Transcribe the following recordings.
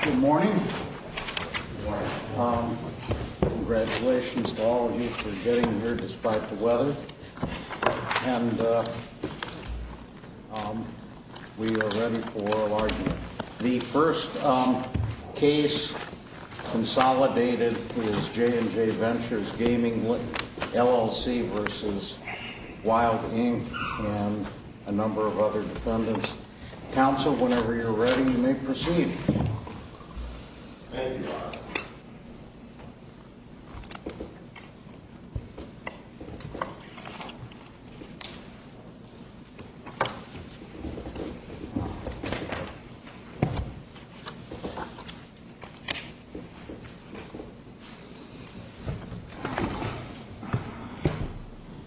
Good morning. Congratulations to all of you for getting here despite the weather. And we are ready for a large... The first case consolidated is J & J Ventures Gaming LLC v. Wild, Inc. and a number of other defendants. Counsel, whenever you're ready, you may proceed. Thank you, Your Honor.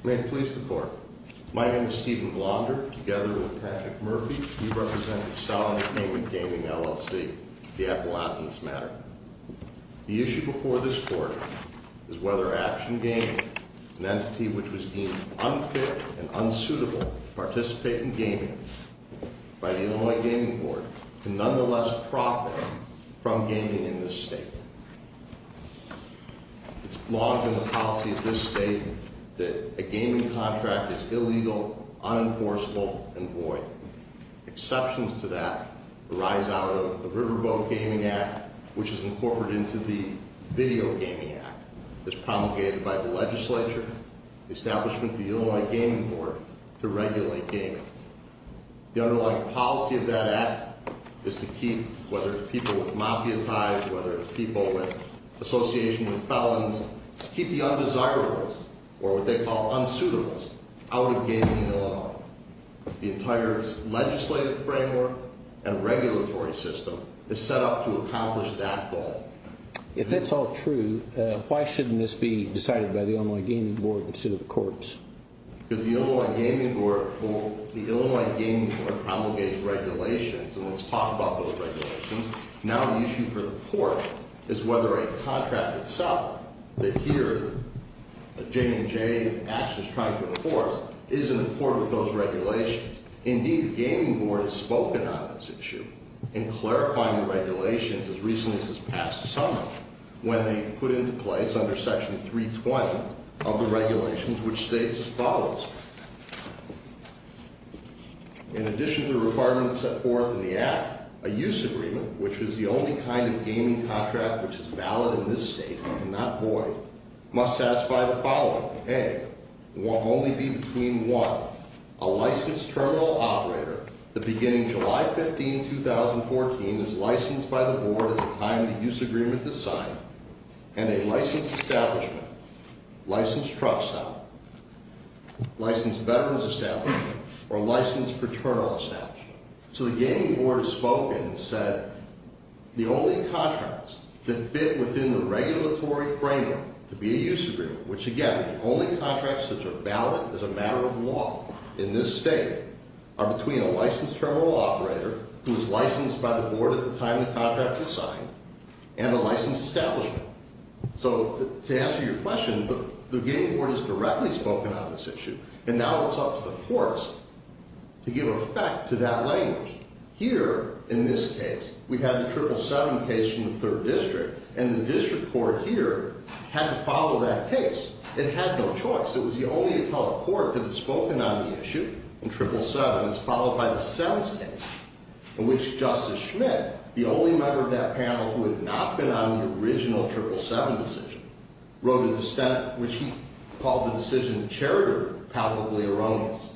May it please the Court. My name is Stephen Blonder. Together with Patrick Murphy, we represent the Solid Entertainment Gaming LLC. The act will act on this matter. The issue before this Court is whether Action Gaming, an entity which was deemed unfit and unsuitable to participate in gaming by the Illinois Gaming Board, can nonetheless profit from gaming in this state. It's logged in the policy of this state that a gaming contract is illegal, unenforceable, and void. Exceptions to that arise out of the Riverboat Gaming Act, which is incorporated into the Video Gaming Act. It's promulgated by the legislature, the establishment of the Illinois Gaming Board, to regulate gaming. The underlying policy of that act is to keep, whether it's people with mafia ties, whether it's people with association with felons, keep the undesirables, or what they call unsuitables, out of gaming in Illinois. The entire legislative framework and regulatory system is set up to accomplish that goal. If that's all true, why shouldn't this be decided by the Illinois Gaming Board instead of the courts? Because the Illinois Gaming Board promulgates regulations, and let's talk about those regulations. Now the issue for the court is whether a contract itself, that here J&J Action is trying to enforce, is in accord with those regulations. Indeed, the Gaming Board has spoken on this issue in clarifying the regulations as recently as this past summer, when they put into place under section 320 of the regulations, which states as follows. In addition to requirements set forth in the act, a use agreement, which is the only kind of gaming contract which is valid in this state and not void, must satisfy the following. A, there will only be between one, a licensed terminal operator, the beginning July 15, 2014 is licensed by the board at the time the use agreement is signed, and a licensed establishment, licensed truck seller, licensed veterans establishment, or licensed fraternal establishment. So the Gaming Board has spoken and said the only contracts that fit within the regulatory framework to be a use agreement, which again, the only contracts that are valid as a matter of law in this state, are between a licensed terminal operator who is licensed by the board at the time the contract is signed, and a licensed establishment. So to answer your question, the Gaming Board has directly spoken on this issue. And now it's up to the courts to give effect to that language. Here, in this case, we have the 777 case in the third district, and the district court here had to follow that case. It had no choice. It was the only appellate court that had spoken on the issue in 777. It was followed by the 7's case, in which Justice Schmidt, the only member of that panel who had not been on the original 777 decision, wrote a dissent which he called the decision charitably erroneous.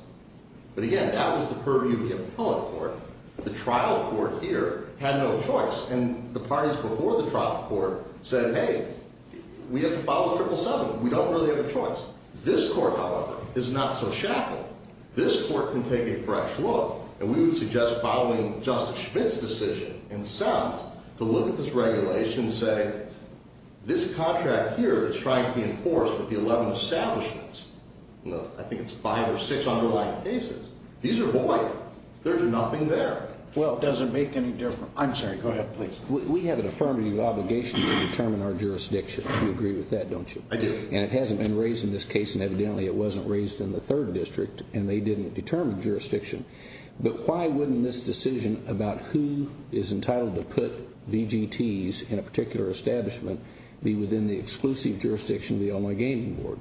But again, that was the purview of the appellate court. The trial court here had no choice. And the parties before the trial court said, hey, we have to follow 777. We don't really have a choice. This court, however, is not so shackled. This court can take a fresh look, and we would suggest following Justice Schmidt's decision and 7's to look at this regulation and say, this contract here is trying to be enforced with the 11 establishments. I think it's five or six underlying cases. These are void. There's nothing there. Well, it doesn't make any difference. I'm sorry. Go ahead, please. We have an affirmative obligation to determine our jurisdiction. You agree with that, don't you? I do. And it hasn't been raised in this case, and evidently it wasn't raised in the third district, and they didn't determine jurisdiction. But why wouldn't this decision about who is entitled to put VGTs in a particular establishment be within the exclusive jurisdiction of the Illinois Gaming Board?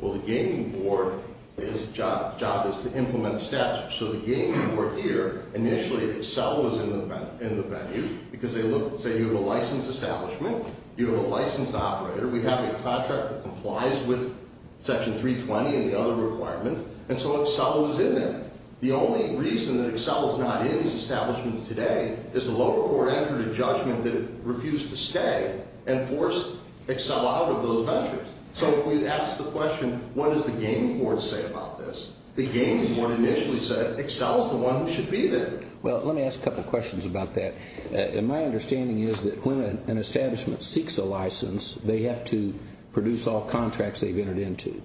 Well, the Gaming Board's job is to implement statutes. So the Gaming Board here, initially, Excel was in the venue because they look, say, you have a licensed establishment. You have a licensed operator. We have a contract that complies with Section 320 and the other requirements, and so Excel was in there. The only reason that Excel is not in these establishments today is the lower court entered a judgment that it refused to stay and forced Excel out of those ventures. So if we ask the question, what does the Gaming Board say about this? The Gaming Board initially said Excel is the one who should be there. Well, let me ask a couple questions about that. And my understanding is that when an establishment seeks a license, they have to produce all contracts they've entered into.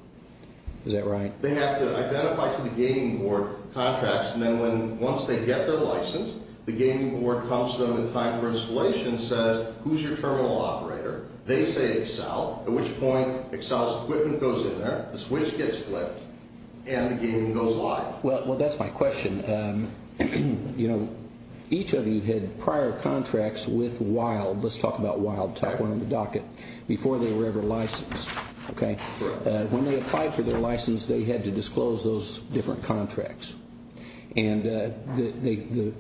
Is that right? They have to identify to the Gaming Board contracts, and then once they get their license, the Gaming Board comes to them in time for installation and says, Who's your terminal operator? They say Excel, at which point Excel's equipment goes in there, the switch gets flipped, and the gaming goes live. Well, that's my question. You know, each of you had prior contracts with Wild. Let's talk about Wild. Top one on the docket. Before they were ever licensed, okay? Correct. When they applied for their license, they had to disclose those different contracts. And the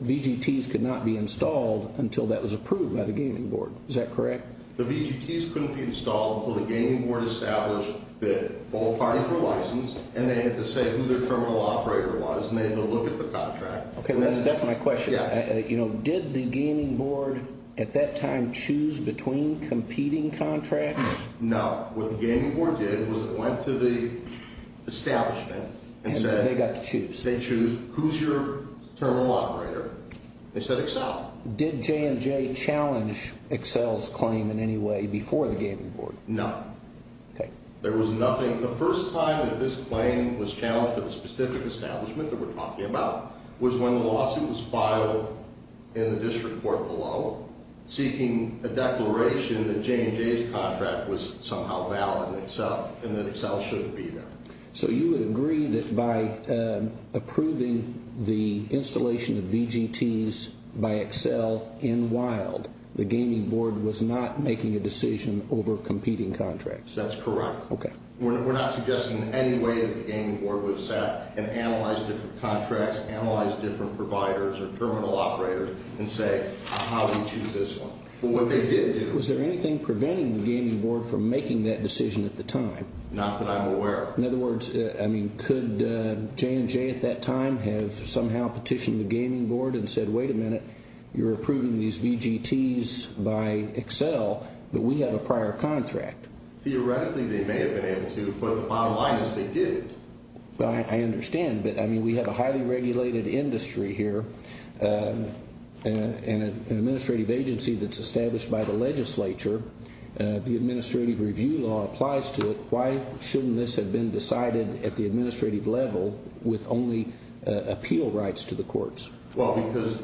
VGTs could not be installed until that was approved by the Gaming Board. Is that correct? The VGTs couldn't be installed until the Gaming Board established that all parties were licensed, and they had to say who their terminal operator was, and they had to look at the contract. Okay, that's my question. You know, did the Gaming Board at that time choose between competing contracts? No. What the Gaming Board did was it went to the establishment and said they got to choose. They choose who's your terminal operator. They said Excel. Did J&J challenge Excel's claim in any way before the Gaming Board? No. Okay. There was nothing. The first time that this claim was challenged for the specific establishment that we're talking about was when the lawsuit was filed in the district court below, seeking a declaration that J&J's contract was somehow valid in Excel and that Excel shouldn't be there. So you would agree that by approving the installation of VGTs by Excel in Wild, the Gaming Board was not making a decision over competing contracts? That's correct. Okay. We're not suggesting in any way that the Gaming Board would have sat and analyzed different contracts, analyzed different providers or terminal operators, and say, how do we choose this one? But what they did do – Was there anything preventing the Gaming Board from making that decision at the time? Not that I'm aware of. In other words, I mean, could J&J at that time have somehow petitioned the Gaming Board and said, wait a minute, you're approving these VGTs by Excel, but we have a prior contract? Theoretically, they may have been able to, but the bottom line is they didn't. I understand. But, I mean, we have a highly regulated industry here and an administrative agency that's established by the legislature. The administrative review law applies to it. Why shouldn't this have been decided at the administrative level with only appeal rights to the courts? Well, because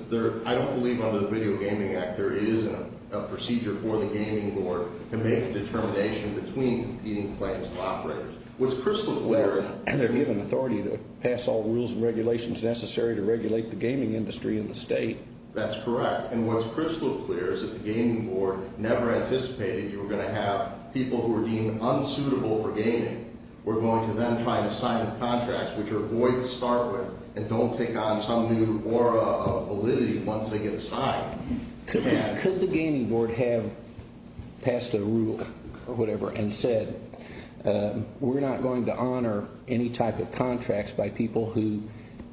I don't believe under the Video Gaming Act there is a procedure for the Gaming Board to make a determination between competing claims and operators. What's crystal clear is – And they're given authority to pass all the rules and regulations necessary to regulate the gaming industry in the state. That's correct. And what's crystal clear is if the Gaming Board never anticipated you were going to have people who are deemed unsuitable for gaming, we're going to then try to sign the contracts, which are void to start with, and don't take on some new aura of validity once they get a sign. Could the Gaming Board have passed a rule or whatever and said, we're not going to honor any type of contracts by people who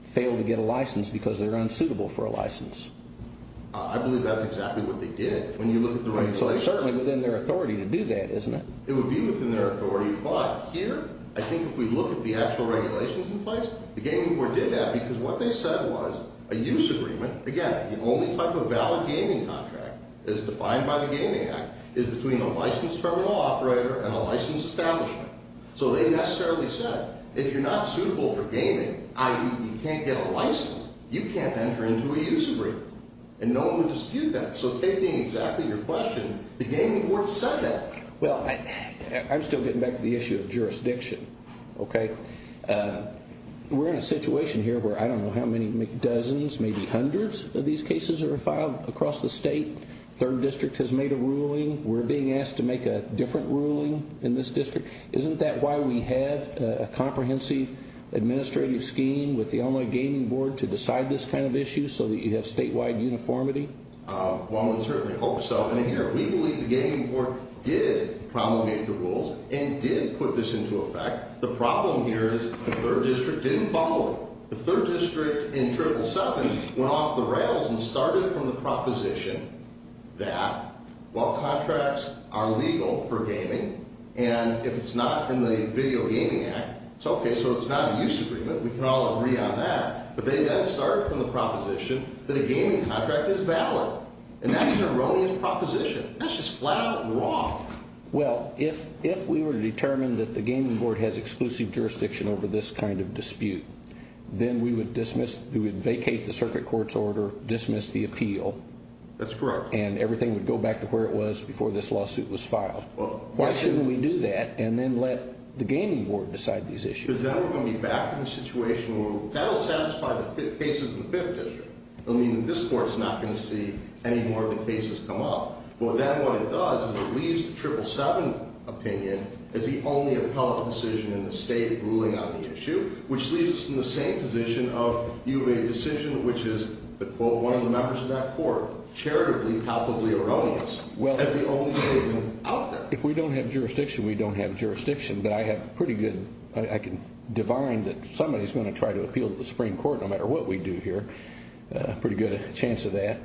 fail to get a license because they're unsuitable for a license? I believe that's exactly what they did. When you look at the regulations – It's certainly within their authority to do that, isn't it? It would be within their authority. But here, I think if we look at the actual regulations in place, the Gaming Board did that because what they said was a use agreement – Again, the only type of valid gaming contract as defined by the Gaming Act is between a licensed terminal operator and a licensed establishment. So they necessarily said, if you're not suitable for gaming, i.e., you can't get a license, you can't enter into a use agreement. And no one would dispute that. So taking exactly your question, the Gaming Board said that. Well, I'm still getting back to the issue of jurisdiction. We're in a situation here where I don't know how many dozens, maybe hundreds of these cases are filed across the state. The 3rd District has made a ruling. We're being asked to make a different ruling in this district. Isn't that why we have a comprehensive administrative scheme with the Illinois Gaming Board to decide this kind of issue so that you have statewide uniformity? One would certainly hope so. And here, we believe the Gaming Board did promulgate the rules and did put this into effect. The problem here is the 3rd District didn't follow it. The 3rd District, in Term 7, went off the rails and started from the proposition that while contracts are legal for gaming, and if it's not in the Video Gaming Act, it's okay, so it's not a use agreement. We can all agree on that. But they got started from the proposition that a gaming contract is valid. And that's an erroneous proposition. That's just flat out wrong. Well, if we were to determine that the Gaming Board has exclusive jurisdiction over this kind of dispute, then we would vacate the circuit court's order, dismiss the appeal. That's correct. And everything would go back to where it was before this lawsuit was filed. Why shouldn't we do that and then let the Gaming Board decide these issues? Because then we're going to be back in a situation where that will satisfy the cases in the 5th District. It will mean that this court is not going to see any more of the cases come up. But then what it does is it leaves the 777 opinion as the only appellate decision in the state ruling on the issue, which leaves us in the same position of you made a decision which is, quote, one of the members of that court, charitably, palpably erroneous, as the only opinion out there. If we don't have jurisdiction, we don't have jurisdiction. But I have pretty good, I can divine that somebody is going to try to appeal to the Supreme Court no matter what we do here. Pretty good chance of that.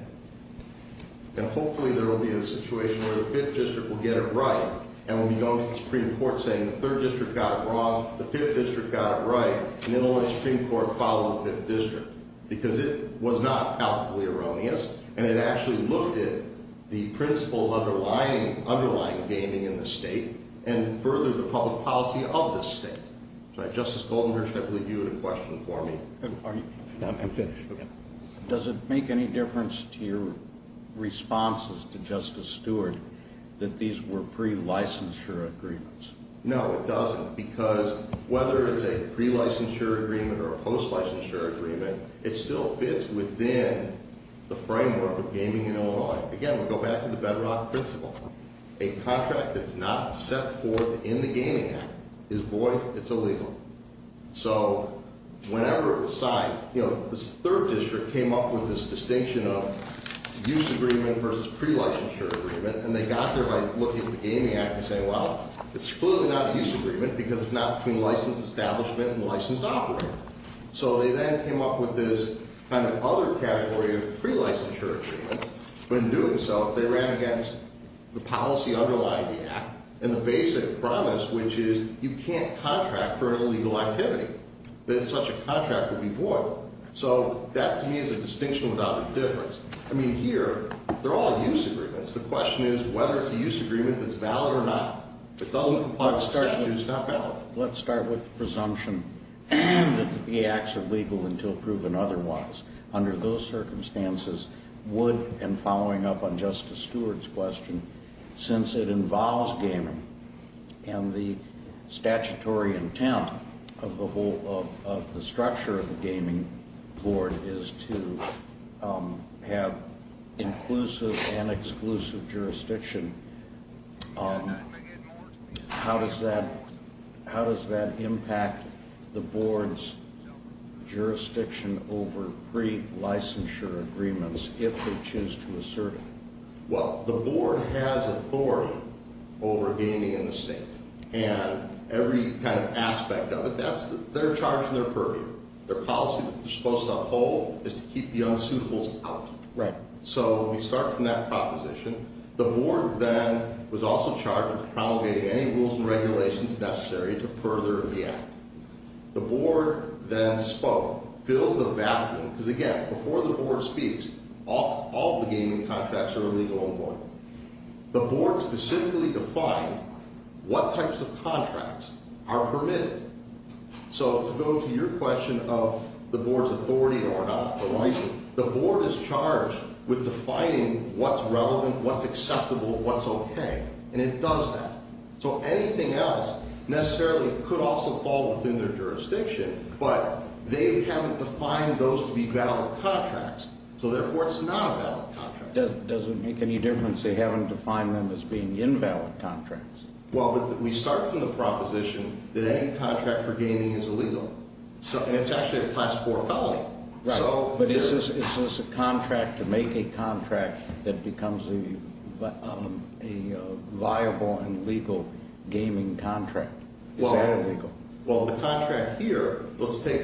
And hopefully there will be a situation where the 5th District will get it right and we'll be going to the Supreme Court saying the 3rd District got it wrong, the 5th District got it right, and then only the Supreme Court followed the 5th District. Because it was not palpably erroneous, and it actually looked at the principles underlying gaming in the state and furthered the public policy of the state. Justice Goldenberg, I believe you had a question for me. I'm finished. Does it make any difference to your responses to Justice Stewart that these were pre-licensure agreements? No, it doesn't. Because whether it's a pre-licensure agreement or a post-licensure agreement, it still fits within the framework of gaming in Illinois. Again, we go back to the Bedrock Principle. A contract that's not set forth in the Gaming Act is void, it's illegal. So, whenever it was signed, you know, the 3rd District came up with this distinction of use agreement versus pre-licensure agreement, and they got there by looking at the Gaming Act and saying, well, it's clearly not a use agreement because it's not between licensed establishment and licensed operator. So they then came up with this kind of other category of pre-licensure agreement. But in doing so, they ran against the policy underlying the Act and the basic promise, which is you can't contract for an illegal activity, that such a contract would be void. So that, to me, is a distinction without a difference. I mean, here, they're all use agreements. The question is whether it's a use agreement that's valid or not. If it doesn't apply to statute, it's not valid. Let's start with the presumption that the acts are legal until proven otherwise. Under those circumstances, would, and following up on Justice Stewart's question, since it involves gaming and the statutory intent of the structure of the Gaming Board is to have inclusive and exclusive jurisdiction, how does that impact the board's jurisdiction over pre-licensure agreements if they choose to assert it? Well, the board has authority over gaming in the state, and every kind of aspect of it, that's their charge and their purview. Their policy that they're supposed to uphold is to keep the unsuitables out. Right. So we start from that proposition. The board then was also charged with promulgating any rules and regulations necessary to further the act. The board then spoke, filled the bathroom, because again, before the board speaks, all of the gaming contracts are illegal on board. The board specifically defined what types of contracts are permitted. So to go to your question of the board's authority or not, the license, the board is charged with defining what's relevant, what's acceptable, what's okay, and it does that. So anything else necessarily could also fall within their jurisdiction, but they haven't defined those to be valid contracts, so therefore it's not a valid contract. Does it make any difference they haven't defined them as being invalid contracts? Well, we start from the proposition that any contract for gaming is illegal, and it's actually a Class 4 felony. But is this a contract to make a contract that becomes a viable and legal gaming contract? Is that illegal? Well, the contract here, let's take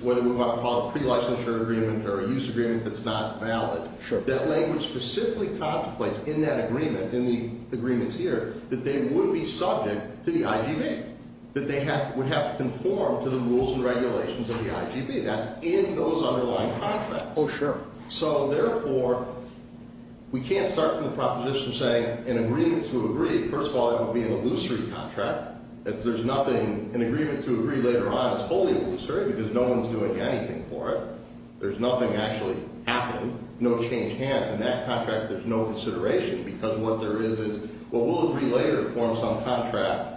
what we might call a pre-licensure agreement or a use agreement that's not valid. That language specifically contemplates in that agreement, in the agreements here, that they would be subject to the IGB, that they would have to conform to the rules and regulations of the IGB. That's in those underlying contracts. Oh, sure. So, therefore, we can't start from the proposition saying an agreement to agree, first of all, it would be an illusory contract. If there's nothing, an agreement to agree later on is wholly illusory because no one's doing anything for it. There's nothing actually happening, no change hands in that contract, there's no consideration because what there is is, well, we'll agree later to form some contract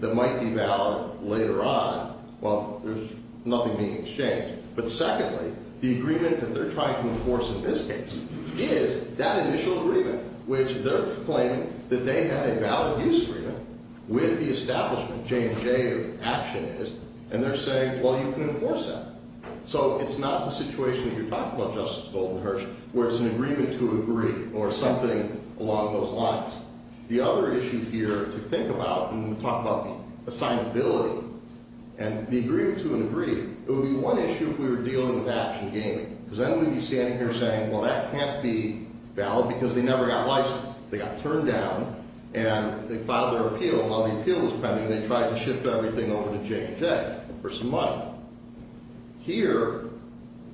that might be valid later on. Well, there's nothing being exchanged. But secondly, the agreement that they're trying to enforce in this case is that initial agreement, which they're claiming that they had a valid use agreement with the establishment, J&J, of Actionist, and they're saying, well, you can enforce that. So it's not the situation that you're talking about, Justice Goldenherz, where it's an agreement to agree or something along those lines. The other issue here to think about when we talk about assignability and the agreement to an agree, it would be one issue if we were dealing with Action Gaming because then we'd be standing here saying, well, that can't be valid because they never got licensed. They got turned down and they filed their appeal while the appeal was pending and they tried to shift everything over to J&J for some money. Here,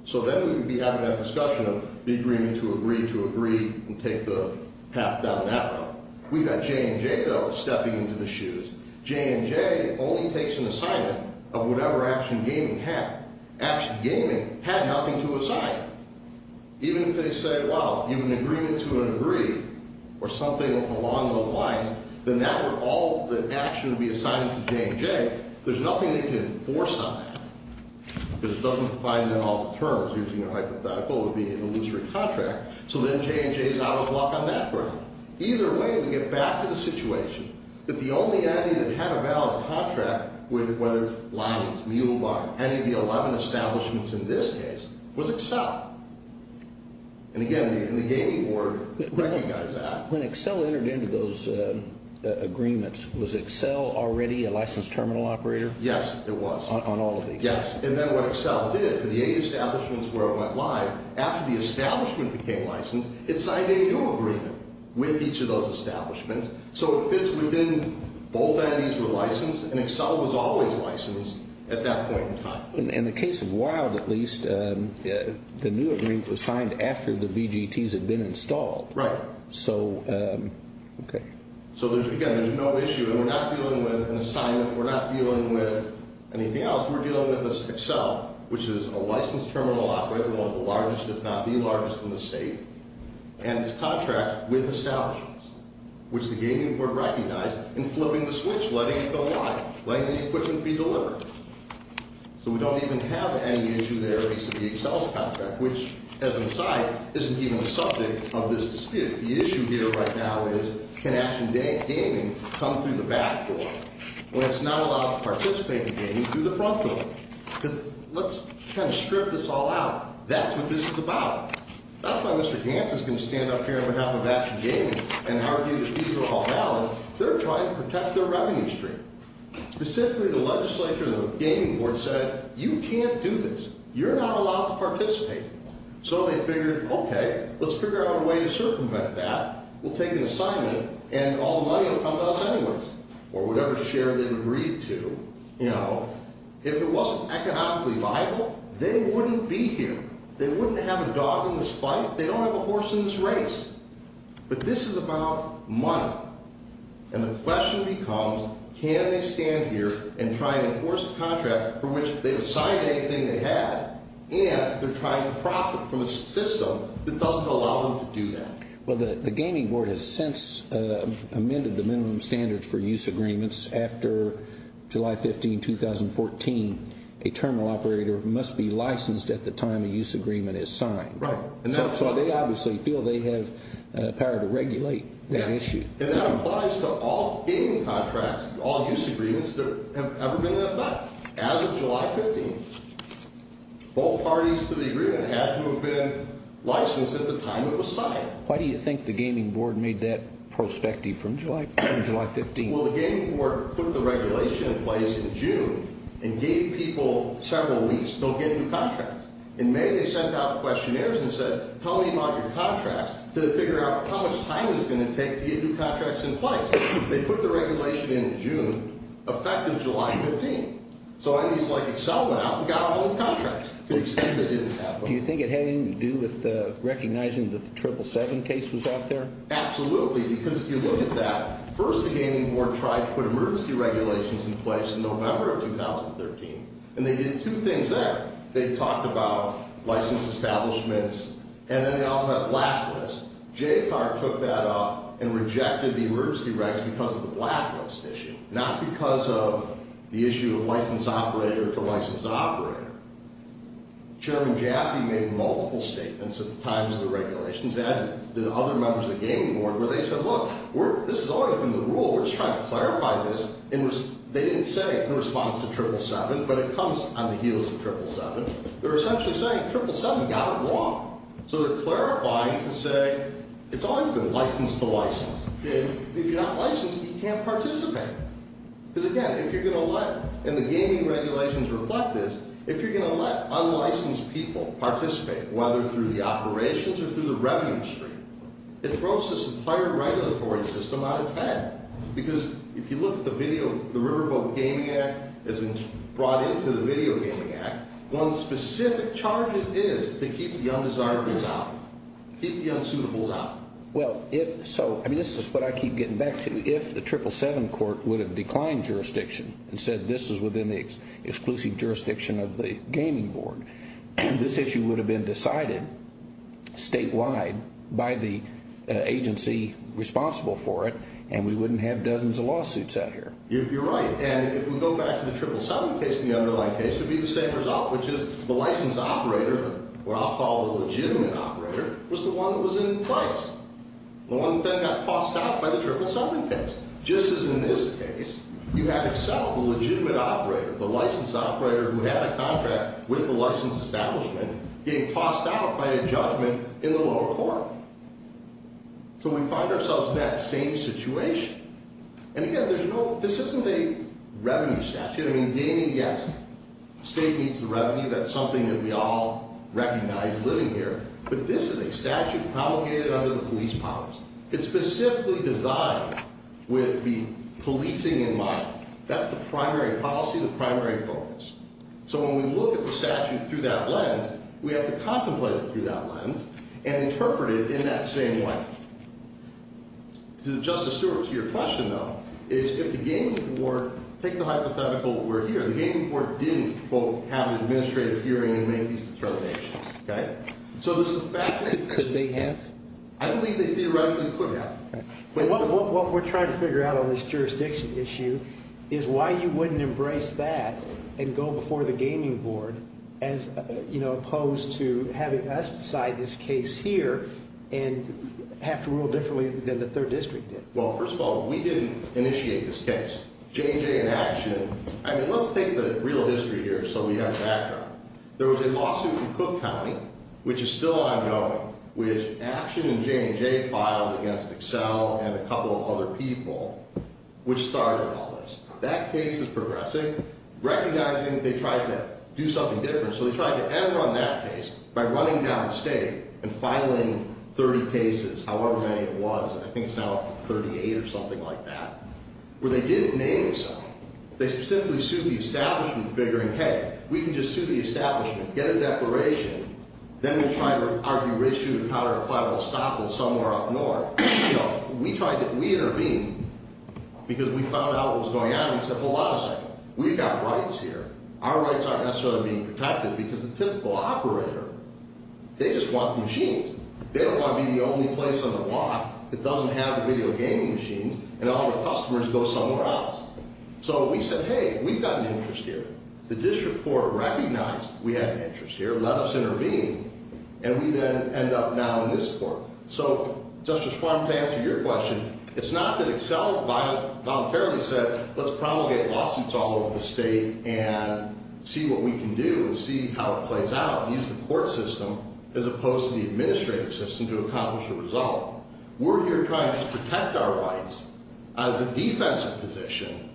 so then we would be having that discussion of the agreement to agree to agree and take the path down that road. We've got J&J, though, stepping into the shoes. J&J only takes an assignment of whatever Action Gaming had. Action Gaming had nothing to assign. Even if they say, well, you have an agreement to an agree or something along those lines, then that would all the action would be assigned to J&J. There's nothing they can enforce on that because it doesn't find in all the terms, using a hypothetical would be an illusory contract. So then J&J is out of luck on that ground. Either way, we get back to the situation that the only entity that had a valid contract with whether Lions, Mule Barn, any of the 11 establishments in this case was Accel. And again, the Gaming Board recognized that. When Accel entered into those agreements, was Accel already a licensed terminal operator? Yes, it was. On all of these? Yes. And then what Accel did for the eight establishments where it went live, after the establishment became licensed, it signed a new agreement with each of those establishments. So it fits within both entities were licensed, and Accel was always licensed at that point in time. In the case of Wild, at least, the new agreement was signed after the VGTs had been installed. Right. So, okay. So again, there's no issue, and we're not dealing with an assignment. We're not dealing with anything else. We're dealing with Accel, which is a licensed terminal operator, one of the largest, if not the largest in the state, and its contract with establishments, which the Gaming Board recognized in flipping the switch, letting it go live, letting the equipment be delivered. So we don't even have any issue there with the Accel contract, which, as an aside, isn't even the subject of this dispute. The issue here right now is can Action Gaming come through the back door? Well, it's not allowed to participate in gaming through the front door. Because let's kind of strip this all out. That's what this is about. That's why Mr. Gantz is going to stand up here on behalf of Action Gaming and argue that these are all valid. They're trying to protect their revenue stream. Specifically, the legislature of the Gaming Board said, you can't do this. You're not allowed to participate. So they figured, okay, let's figure out a way to circumvent that. We'll take an assignment, and all the money will come to us anyways, or whatever share they agreed to. You know, if it wasn't economically viable, they wouldn't be here. They wouldn't have a dog in this fight. They don't have a horse in this race. But this is about money. And the question becomes, can they stand here and try to enforce a contract for which they've assigned anything they had, and they're trying to profit from a system that doesn't allow them to do that? Well, the Gaming Board has since amended the minimum standards for use agreements after July 15, 2014. A terminal operator must be licensed at the time a use agreement is signed. Right. So they obviously feel they have power to regulate that issue. And that applies to all gaming contracts, all use agreements that have ever been in effect. As of July 15, both parties to the agreement had to have been licensed at the time it was signed. Why do you think the Gaming Board made that prospective from July 15? Well, the Gaming Board put the regulation in place in June and gave people several weeks. They'll give you contracts. In May, they sent out questionnaires and said, tell me about your contracts, to figure out how much time it was going to take to get new contracts in place. They put the regulation in June, effective July 15. So enemies like Accel went out and got all the contracts. Do you think it had anything to do with recognizing that the 777 case was out there? Absolutely, because if you look at that, first the Gaming Board tried to put emergency regulations in place in November of 2013. And they did two things there. They talked about license establishments, and then they also had a blacklist. JCAR took that up and rejected the emergency regs because of the blacklist issue, not because of the issue of license operator to license operator. Chairman Jaffee made multiple statements at the time of the regulations, and other members of the Gaming Board, where they said, look, this has always been the rule. We're just trying to clarify this. They didn't say in response to 777, but it comes on the heels of 777. They're essentially saying 777 got it wrong. So they're clarifying to say it's always been license to license. If you're not licensed, you can't participate. Because again, if you're going to let, and the gaming regulations reflect this, if you're going to let unlicensed people participate, whether through the operations or through the revenue stream, it throws this entire regulatory system on its head. Because if you look at the video, the Riverboat Gaming Act has been brought into the Video Gaming Act. One of the specific charges is to keep the undesirables out, keep the unsuitables out. Well, if so, I mean, this is what I keep getting back to. If the 777 court would have declined jurisdiction and said this is within the exclusive jurisdiction of the Gaming Board, this issue would have been decided statewide by the agency responsible for it, and we wouldn't have dozens of lawsuits out here. You're right. And if we go back to the 777 case and the underlying case, it would be the same result, which is the licensed operator, what I'll call the legitimate operator, was the one that was in place. The one that then got tossed out by the 777 case. Just as in this case, you have itself, the legitimate operator, the licensed operator, who had a contract with the licensed establishment getting tossed out by a judgment in the lower court. So we find ourselves in that same situation. And again, this isn't a revenue statute. I mean, gaming, yes, the state needs the revenue. That's something that we all recognize living here. But this is a statute promulgated under the police powers. It's specifically designed with the policing in mind. That's the primary policy, the primary focus. So when we look at the statute through that lens, we have to contemplate it through that lens and interpret it in that same way. To Justice Stewart, to your question, though, is if the gaming board, take the hypothetical we're here. The gaming board didn't, quote, have an administrative hearing and make these determinations. Okay? So this is a fact. Could they have? I believe they theoretically could have. Okay. What we're trying to figure out on this jurisdiction issue is why you wouldn't embrace that and go before the gaming board as, you know, opposed to having us decide this case here and have to rule differently than the third district did. Well, first of all, we didn't initiate this case. J&J and Action, I mean, let's take the real history here so we have background. There was a lawsuit in Cook County, which is still ongoing, which Action and J&J filed against Excel and a couple of other people, which started all this. That case is progressing, recognizing that they tried to do something different. So they tried to end on that case by running down state and filing 30 cases, however many it was. I think it's now up to 38 or something like that, where they didn't name some. They simply sued the establishment, figuring, hey, we can just sue the establishment, get a declaration, then we'll try to argue ratio to counter collateral estoppel somewhere up north. We tried to intervene because we found out what was going on. We said, hold on a second. We've got rights here. Our rights aren't necessarily being protected because the typical operator, they just want the machines. They don't want to be the only place on the block that doesn't have the video gaming machines and all the customers go somewhere else. So we said, hey, we've got an interest here. The district court recognized we had an interest here, let us intervene, and we then end up now in this court. So, Justice Schwamm, to answer your question, it's not that EXCEL voluntarily said, let's promulgate lawsuits all over the state and see what we can do and see how it plays out and use the court system as opposed to the administrative system to accomplish a result. We're here trying to protect our rights as a defensive position,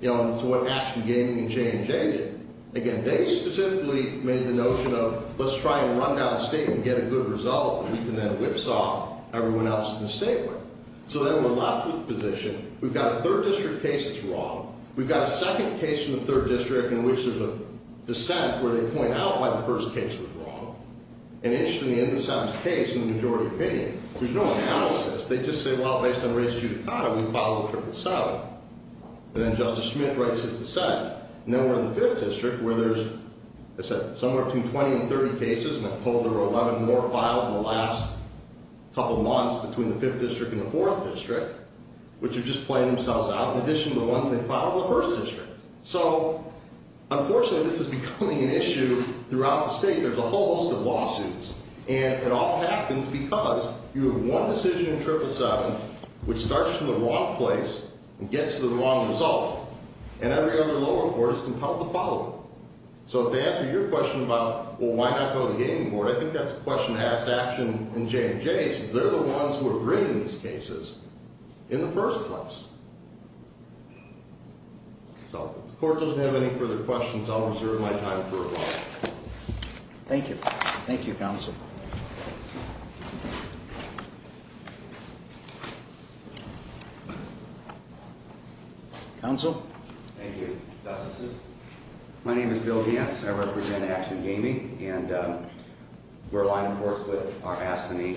you know, and it's what Ashton Gaming and J&J did. Again, they specifically made the notion of let's try and run down state and get a good result and then whipsaw everyone else in the state with it. So then we're left with the position, we've got a third district case that's wrong. We've got a second case in the third district in which there's a dissent where they point out why the first case was wrong. And, interestingly, in the second case, in the majority opinion, there's no analysis. They just say, well, based on race judicata, we follow Triple Seven. And then Justice Schmitt writes his dissent. And then we're in the fifth district where there's, I said, somewhere between 20 and 30 cases, and I've told there were 11 more filed in the last couple months between the fifth district and the fourth district, which are just playing themselves out in addition to the ones they filed in the first district. So, unfortunately, this is becoming an issue throughout the state. There's a whole host of lawsuits. And it all happens because you have one decision in Triple Seven which starts from the wrong place and gets to the wrong result, and every other lower court is compelled to follow it. So, to answer your question about, well, why not go to the gaming board, I think that's a question to ask Action and J&J, since they're the ones who are bringing these cases in the first place. So, if the court doesn't have any further questions, I'll reserve my time for rebuttal. Thank you. Thank you, Counsel. Counsel? Thank you, Justice Schmitt. My name is Bill Vance. I represent Action Gaming, and we're aligned, of course, with our Astony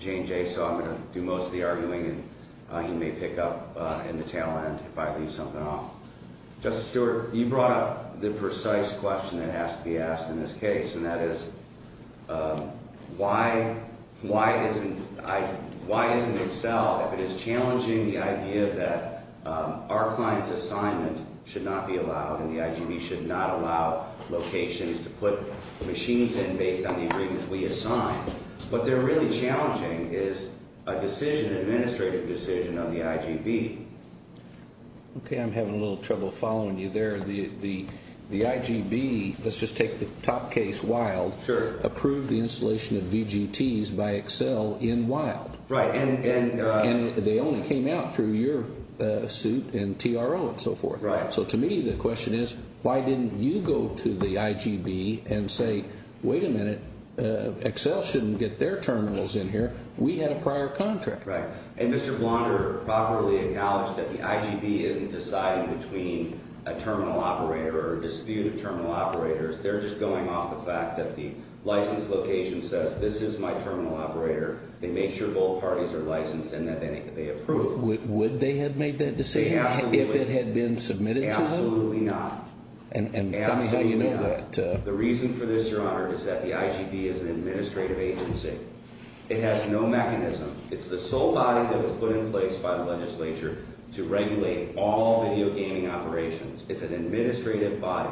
J&J, so I'm going to do most of the arguing, and he may pick up in the tail end if I leave something off. Justice Stewart, you brought up the precise question that has to be asked in this case, and that is why isn't Excel, if it is challenging the idea that our client's assignment should not be allowed and the IGB should not allow locations to put machines in based on the agreements we assign. What they're really challenging is a decision, an administrative decision of the IGB. Okay, I'm having a little trouble following you there. The IGB, let's just take the top case, Wild, approved the installation of VGTs by Excel in Wild. Right. And they only came out through your suit and TRO and so forth. Right. So, to me, the question is, why didn't you go to the IGB and say, wait a minute, Excel shouldn't get their terminals in here. We had a prior contract. Right. And Mr. Blonder properly acknowledged that the IGB isn't deciding between a terminal operator or a dispute of terminal operators. They're just going off the fact that the license location says, this is my terminal operator. They make sure both parties are licensed and that they approve. Would they have made that decision if it had been submitted to them? Absolutely not. And how do you know that? The reason for this, Your Honor, is that the IGB is an administrative agency. It has no mechanism. It's the sole body that was put in place by the legislature to regulate all video gaming operations. It's an administrative body.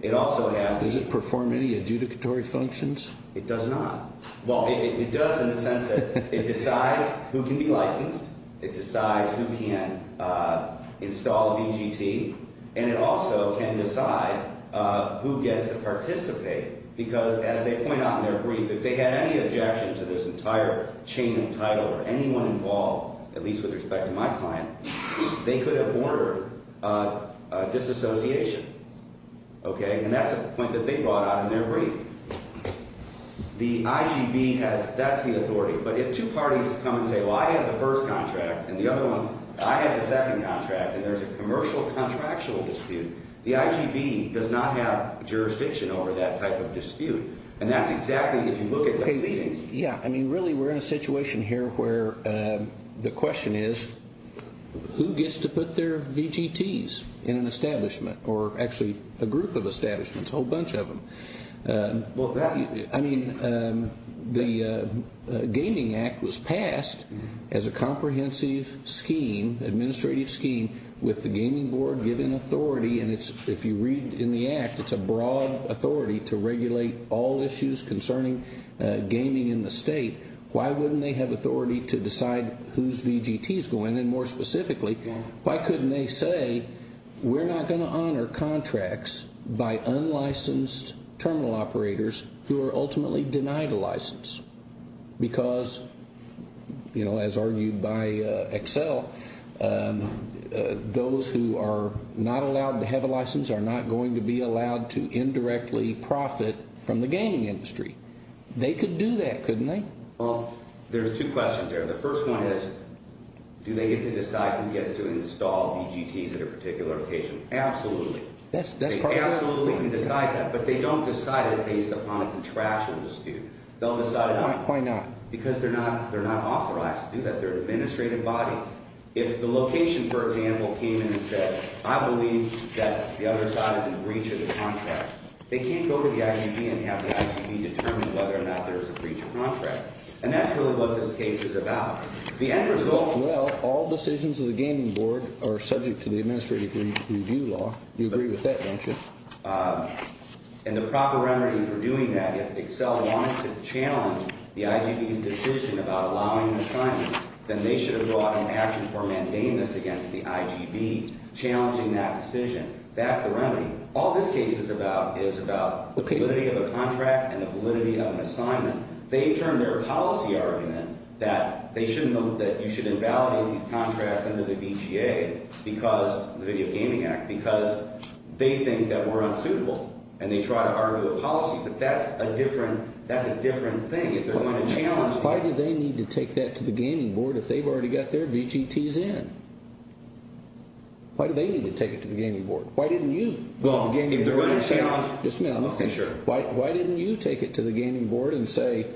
It also has Does it perform any adjudicatory functions? It does not. Well, it does in the sense that it decides who can be licensed. It decides who can install a VGT. And it also can decide who gets to participate. Because as they point out in their brief, if they had any objection to this entire chain of title or anyone involved, at least with respect to my client, they could have ordered disassociation. Okay? And that's a point that they brought out in their brief. The IGB has – that's the authority. But if two parties come and say, well, I have the first contract and the other one – I have the second contract and there's a commercial contractual dispute, the IGB does not have jurisdiction over that type of dispute. And that's exactly if you look at the proceedings. Yeah. I mean, really, we're in a situation here where the question is, who gets to put their VGTs in an establishment or actually a group of establishments, a whole bunch of them? Well, that – I mean, the Gaming Act was passed as a comprehensive scheme, administrative scheme, with the gaming board given authority. And if you read in the act, it's a broad authority to regulate all issues concerning gaming in the state. Why wouldn't they have authority to decide whose VGTs go in? Why couldn't they say, we're not going to honor contracts by unlicensed terminal operators who are ultimately denied a license? Because, you know, as argued by Excel, those who are not allowed to have a license are not going to be allowed to indirectly profit from the gaming industry. They could do that, couldn't they? Well, there's two questions there. The first one is, do they get to decide who gets to install VGTs at a particular location? Absolutely. They absolutely can decide that, but they don't decide it based upon a contractual dispute. They'll decide it on – Why not? Because they're not authorized to do that. They're an administrative body. If the location, for example, came in and said, I believe that the other side is in breach of the contract, they can't go to the IGB and have the IGB determine whether or not there is a breach of contract. And that's really what this case is about. The end result – Well, all decisions of the gaming board are subject to the administrative review law. You agree with that, don't you? And the proper remedy for doing that, if Excel wanted to challenge the IGB's decision about allowing an assignment, then they should have brought an action for mandamus against the IGB challenging that decision. That's the remedy. All this case is about is about the validity of a contract and the validity of an assignment. They've turned their policy argument that you should invalidate these contracts under the VGA because – the Video Gaming Act – because they think that we're unsuitable. And they try to argue the policy, but that's a different thing. If they're going to challenge that – Why do they need to take that to the gaming board if they've already got their VGTs in? Why do they need to take it to the gaming board? Why didn't you – Well, if they're going to challenge – Just a minute, I'm looking. Sure. Why didn't you take it to the gaming board and say,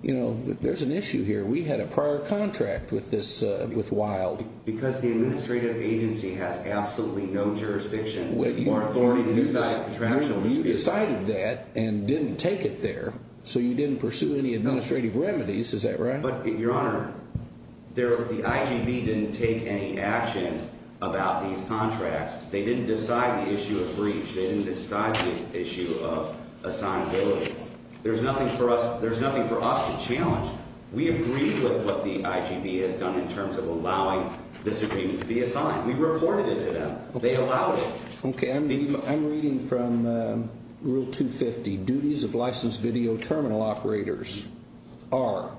you know, there's an issue here. We had a prior contract with this – with Wild. Because the administrative agency has absolutely no jurisdiction or authority to decide contractual decisions. You decided that and didn't take it there, so you didn't pursue any administrative remedies. Is that right? But, Your Honor, the IGB didn't take any action about these contracts. They didn't decide the issue of breach. They didn't decide the issue of assignability. There's nothing for us – there's nothing for us to challenge. We agreed with what the IGB has done in terms of allowing this agreement to be assigned. We reported it to them. They allowed it. Okay, I'm reading from Rule 250. The duties of licensed video terminal operators are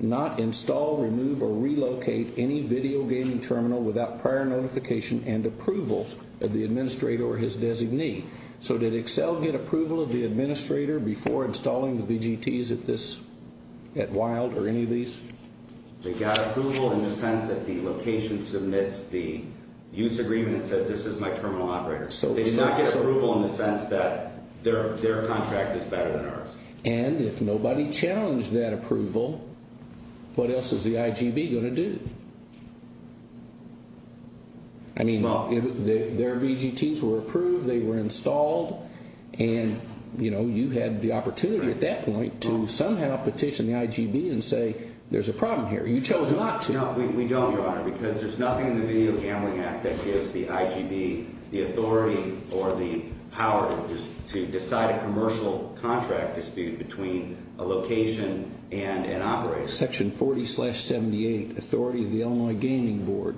not install, remove, or relocate any video gaming terminal without prior notification and approval of the administrator or his designee. So did Excel get approval of the administrator before installing the VGTs at this – at Wild or any of these? They got approval in the sense that the location submits the use agreement that says this is my terminal operator. They did not get approval in the sense that their contract is better than ours. And if nobody challenged that approval, what else is the IGB going to do? I mean, their VGTs were approved, they were installed, and, you know, you had the opportunity at that point to somehow petition the IGB and say there's a problem here. You chose not to. No, we don't, Your Honor, because there's nothing in the Video Gambling Act that gives the IGB the authority or the power to decide a commercial contract dispute between a location and an operator. Section 40-78, Authority of the Illinois Gaming Board,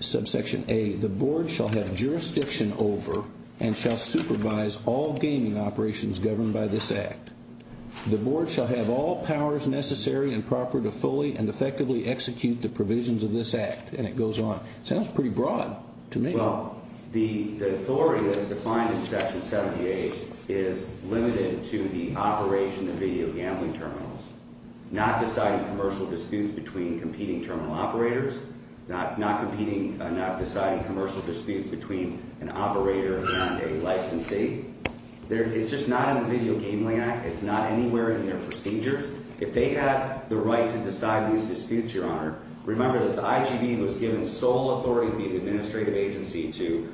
Subsection A, the Board shall have jurisdiction over and shall supervise all gaming operations governed by this Act. The Board shall have all powers necessary and proper to fully and effectively execute the provisions of this Act. And it goes on. It sounds pretty broad to me. Well, the authority that's defined in Section 78 is limited to the operation of video gambling terminals, not deciding commercial disputes between competing terminal operators, not deciding commercial disputes between an operator and a licensee. It's just not in the Video Gambling Act. It's not anywhere in their procedures. If they have the right to decide these disputes, Your Honor, remember that the IGB was given sole authority to be the administrative agency to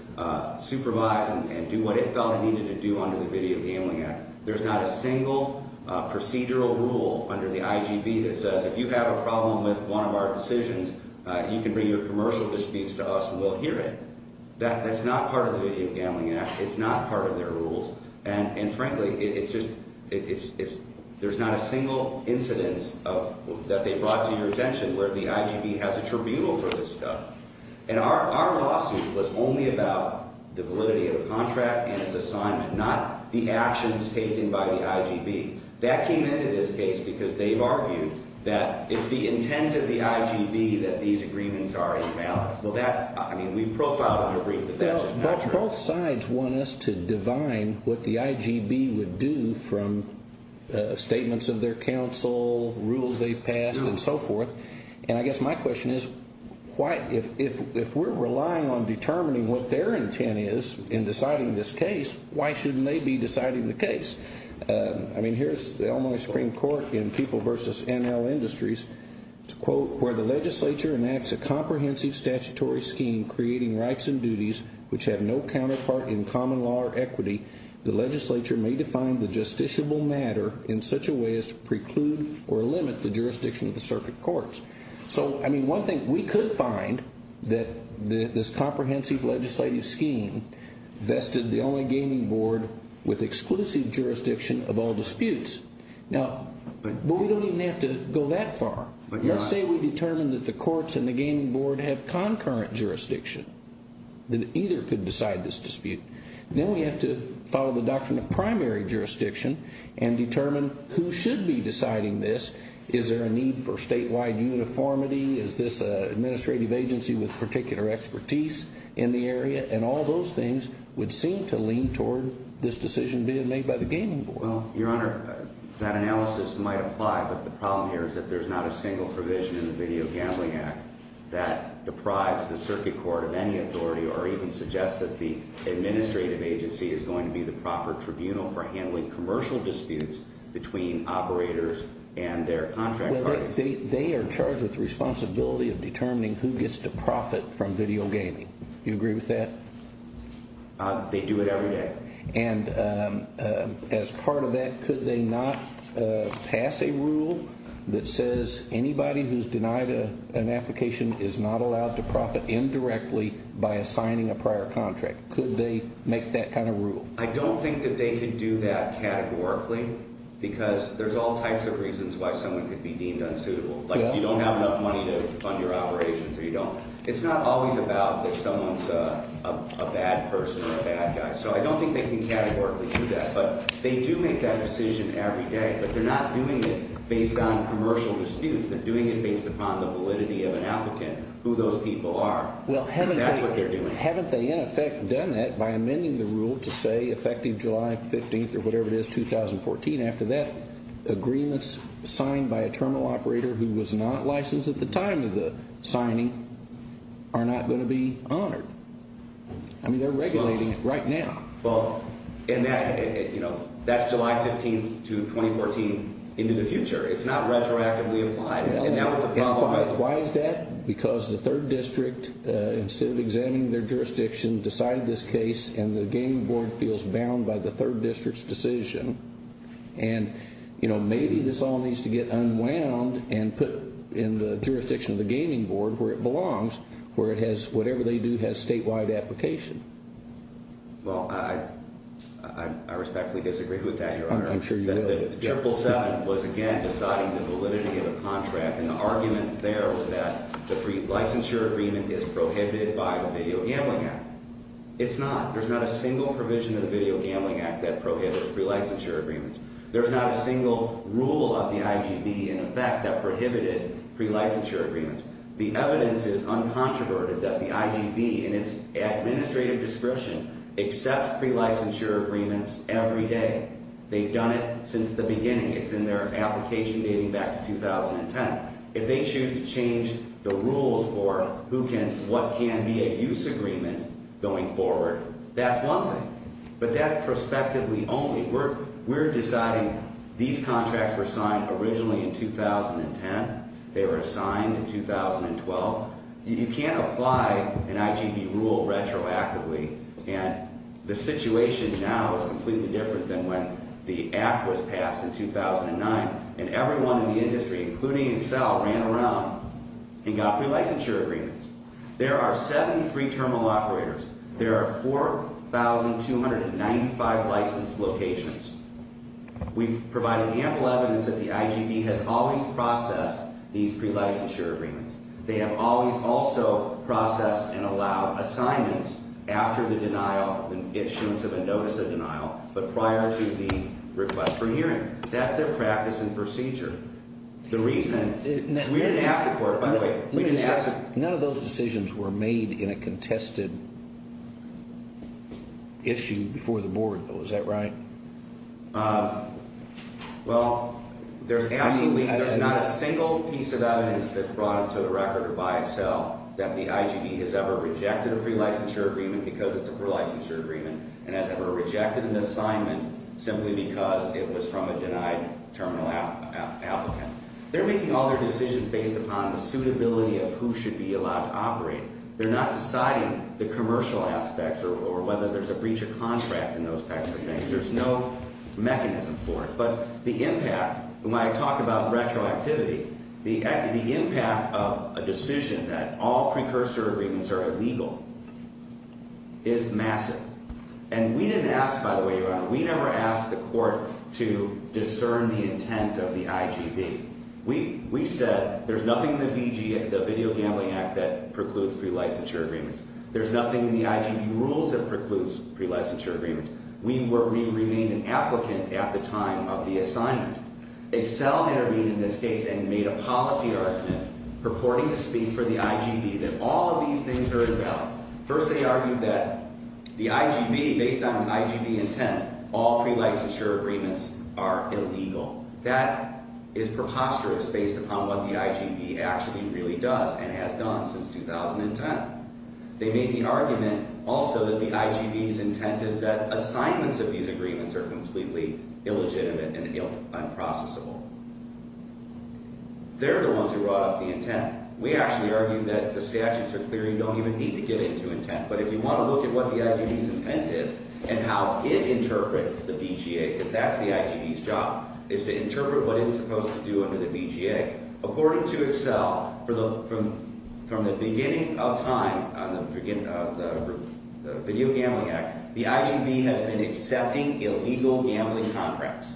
supervise and do what it felt it needed to do under the Video Gambling Act. There's not a single procedural rule under the IGB that says if you have a problem with one of our decisions, you can bring your commercial disputes to us and we'll hear it. That's not part of the Video Gambling Act. It's not part of their rules. And, frankly, it's just – there's not a single incidence that they brought to your attention where the IGB has a tribunal for this stuff. And our lawsuit was only about the validity of the contract and its assignment, not the actions taken by the IGB. That came into this case because they've argued that it's the intent of the IGB that these agreements are invalid. Well, that – I mean, we profiled and agreed that that's just not true. Both sides want us to divine what the IGB would do from statements of their counsel, rules they've passed, and so forth. And I guess my question is, if we're relying on determining what their intent is in deciding this case, why shouldn't they be deciding the case? I mean, here's the Illinois Supreme Court in People v. NL Industries to quote, Where the legislature enacts a comprehensive statutory scheme creating rights and duties which have no counterpart in common law or equity, the legislature may define the justiciable matter in such a way as to preclude or limit the jurisdiction of the circuit courts. So, I mean, one thing – we could find that this comprehensive legislative scheme vested the only gaming board with exclusive jurisdiction of all disputes. Now – but we don't even have to go that far. Let's say we determine that the courts and the gaming board have concurrent jurisdiction. Then either could decide this dispute. Then we have to follow the doctrine of primary jurisdiction and determine who should be deciding this. Is there a need for statewide uniformity? Is this an administrative agency with particular expertise in the area? And all those things would seem to lean toward this decision being made by the gaming board. Well, Your Honor, that analysis might apply. But the problem here is that there's not a single provision in the Video Gambling Act that deprives the circuit court of any authority or even suggests that the administrative agency is going to be the proper tribunal for handling commercial disputes between operators and their contract parties. They are charged with the responsibility of determining who gets to profit from video gaming. Do you agree with that? They do it every day. And as part of that, could they not pass a rule that says anybody who's denied an application is not allowed to profit indirectly by assigning a prior contract? Could they make that kind of rule? I don't think that they could do that categorically because there's all types of reasons why someone could be deemed unsuitable. Like if you don't have enough money to fund your operations or you don't. It's not always about that someone's a bad person or a bad guy. So I don't think they can categorically do that. But they do make that decision every day. But they're not doing it based on commercial disputes. They're doing it based upon the validity of an applicant, who those people are. That's what they're doing. Well, haven't they in effect done that by amending the rule to say effective July 15th or whatever it is, 2014? After that, agreements signed by a terminal operator who was not licensed at the time of the signing are not going to be honored. I mean, they're regulating it right now. Well, that's July 15th to 2014 into the future. It's not retroactively applied, and that was the problem. Why is that? Because the third district, instead of examining their jurisdiction, decided this case and the gaming board feels bound by the third district's decision. And maybe this all needs to get unwound and put in the jurisdiction of the gaming board, where it belongs, where whatever they do has statewide application. Well, I respectfully disagree with that, Your Honor. I'm sure you will. The triple 7 was, again, deciding the validity of the contract, and the argument there was that the pre-licensure agreement is prohibited by the Video Gambling Act. It's not. There's not a single provision in the Video Gambling Act that prohibits pre-licensure agreements. There's not a single rule of the IGB, in effect, that prohibited pre-licensure agreements. The evidence is uncontroverted that the IGB, in its administrative description, accepts pre-licensure agreements every day. They've done it since the beginning. It's in their application dating back to 2010. If they choose to change the rules for who can, what can be a use agreement going forward, that's one thing. But that's prospectively only. We're deciding these contracts were signed originally in 2010. They were signed in 2012. You can't apply an IGB rule retroactively, and the situation now is completely different than when the act was passed in 2009, and everyone in the industry, including Excel, ran around and got pre-licensure agreements. There are 73 terminal operators. There are 4,295 licensed locations. We've provided ample evidence that the IGB has always processed these pre-licensure agreements. They have always also processed and allowed assignments after the denial, when issuance of a notice of denial, but prior to the request for hearing. That's their practice and procedure. The reason we didn't ask the court, by the way, we didn't ask the court. These were made in a contested issue before the board, though. Is that right? Well, there's absolutely not a single piece of evidence that's brought to the record by Excel that the IGB has ever rejected a pre-licensure agreement because it's a pre-licensure agreement and has ever rejected an assignment simply because it was from a denied terminal applicant. They're making all their decisions based upon the suitability of who should be allowed to operate. They're not deciding the commercial aspects or whether there's a breach of contract and those types of things. There's no mechanism for it. But the impact, when I talk about retroactivity, the impact of a decision that all pre-licensure agreements are illegal is massive. And we didn't ask, by the way, Your Honor, we never asked the court to discern the intent of the IGB. We said there's nothing in the Video Gambling Act that precludes pre-licensure agreements. There's nothing in the IGB rules that precludes pre-licensure agreements. We remained an applicant at the time of the assignment. Excel intervened in this case and made a policy argument purporting to speak for the IGB that all of these things are invalid. First, they argued that the IGB, based on the IGB intent, all pre-licensure agreements are illegal. That is preposterous based upon what the IGB actually really does and has done since 2010. They made the argument also that the IGB's intent is that assignments of these agreements are completely illegitimate and unprocessable. They're the ones who brought up the intent. We actually argued that the statutes are clear. You don't even need to get into intent. But if you want to look at what the IGB's intent is and how it interprets the BGA, because that's the IGB's job, is to interpret what it's supposed to do under the BGA. According to Excel, from the beginning of time on the Video Gambling Act, the IGB has been accepting illegal gambling contracts,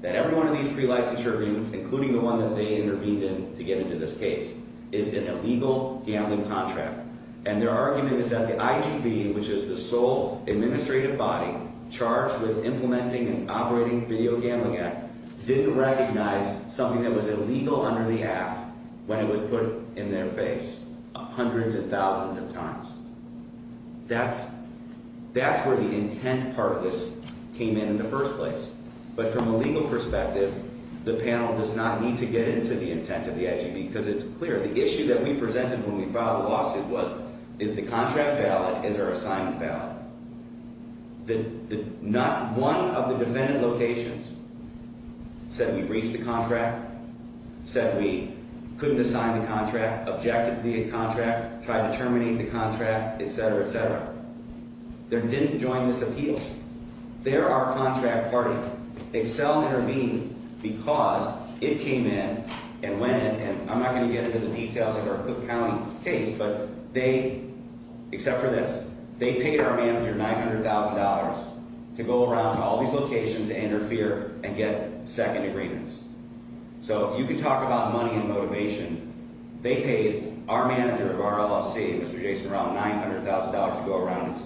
that every one of these pre-licensure agreements, including the one that they intervened in to get into this case, is an illegal gambling contract. And their argument is that the IGB, which is the sole administrative body charged with implementing and operating the Video Gambling Act, didn't recognize something that was illegal under the Act when it was put in their face hundreds and thousands of times. That's where the intent part of this came in in the first place. But from a legal perspective, the panel does not need to get into the intent of the IGB, because it's clear. The issue that we presented when we filed the lawsuit was, is the contract valid, is our assignment valid? Not one of the defendant locations said we breached the contract, said we couldn't assign the contract, objected to the contract, tried to terminate the contract, etc., etc. They didn't join this appeal. They're our contract party. Excel intervened because it came in and went in, and I'm not going to get into the details of our Cook County case, but they, except for this, they paid our manager $900,000 to go around to all these locations to interfere and get second agreements. So you can talk about money and motivation. They paid our manager of our LLC, Mr. Jason, around $900,000 to go around and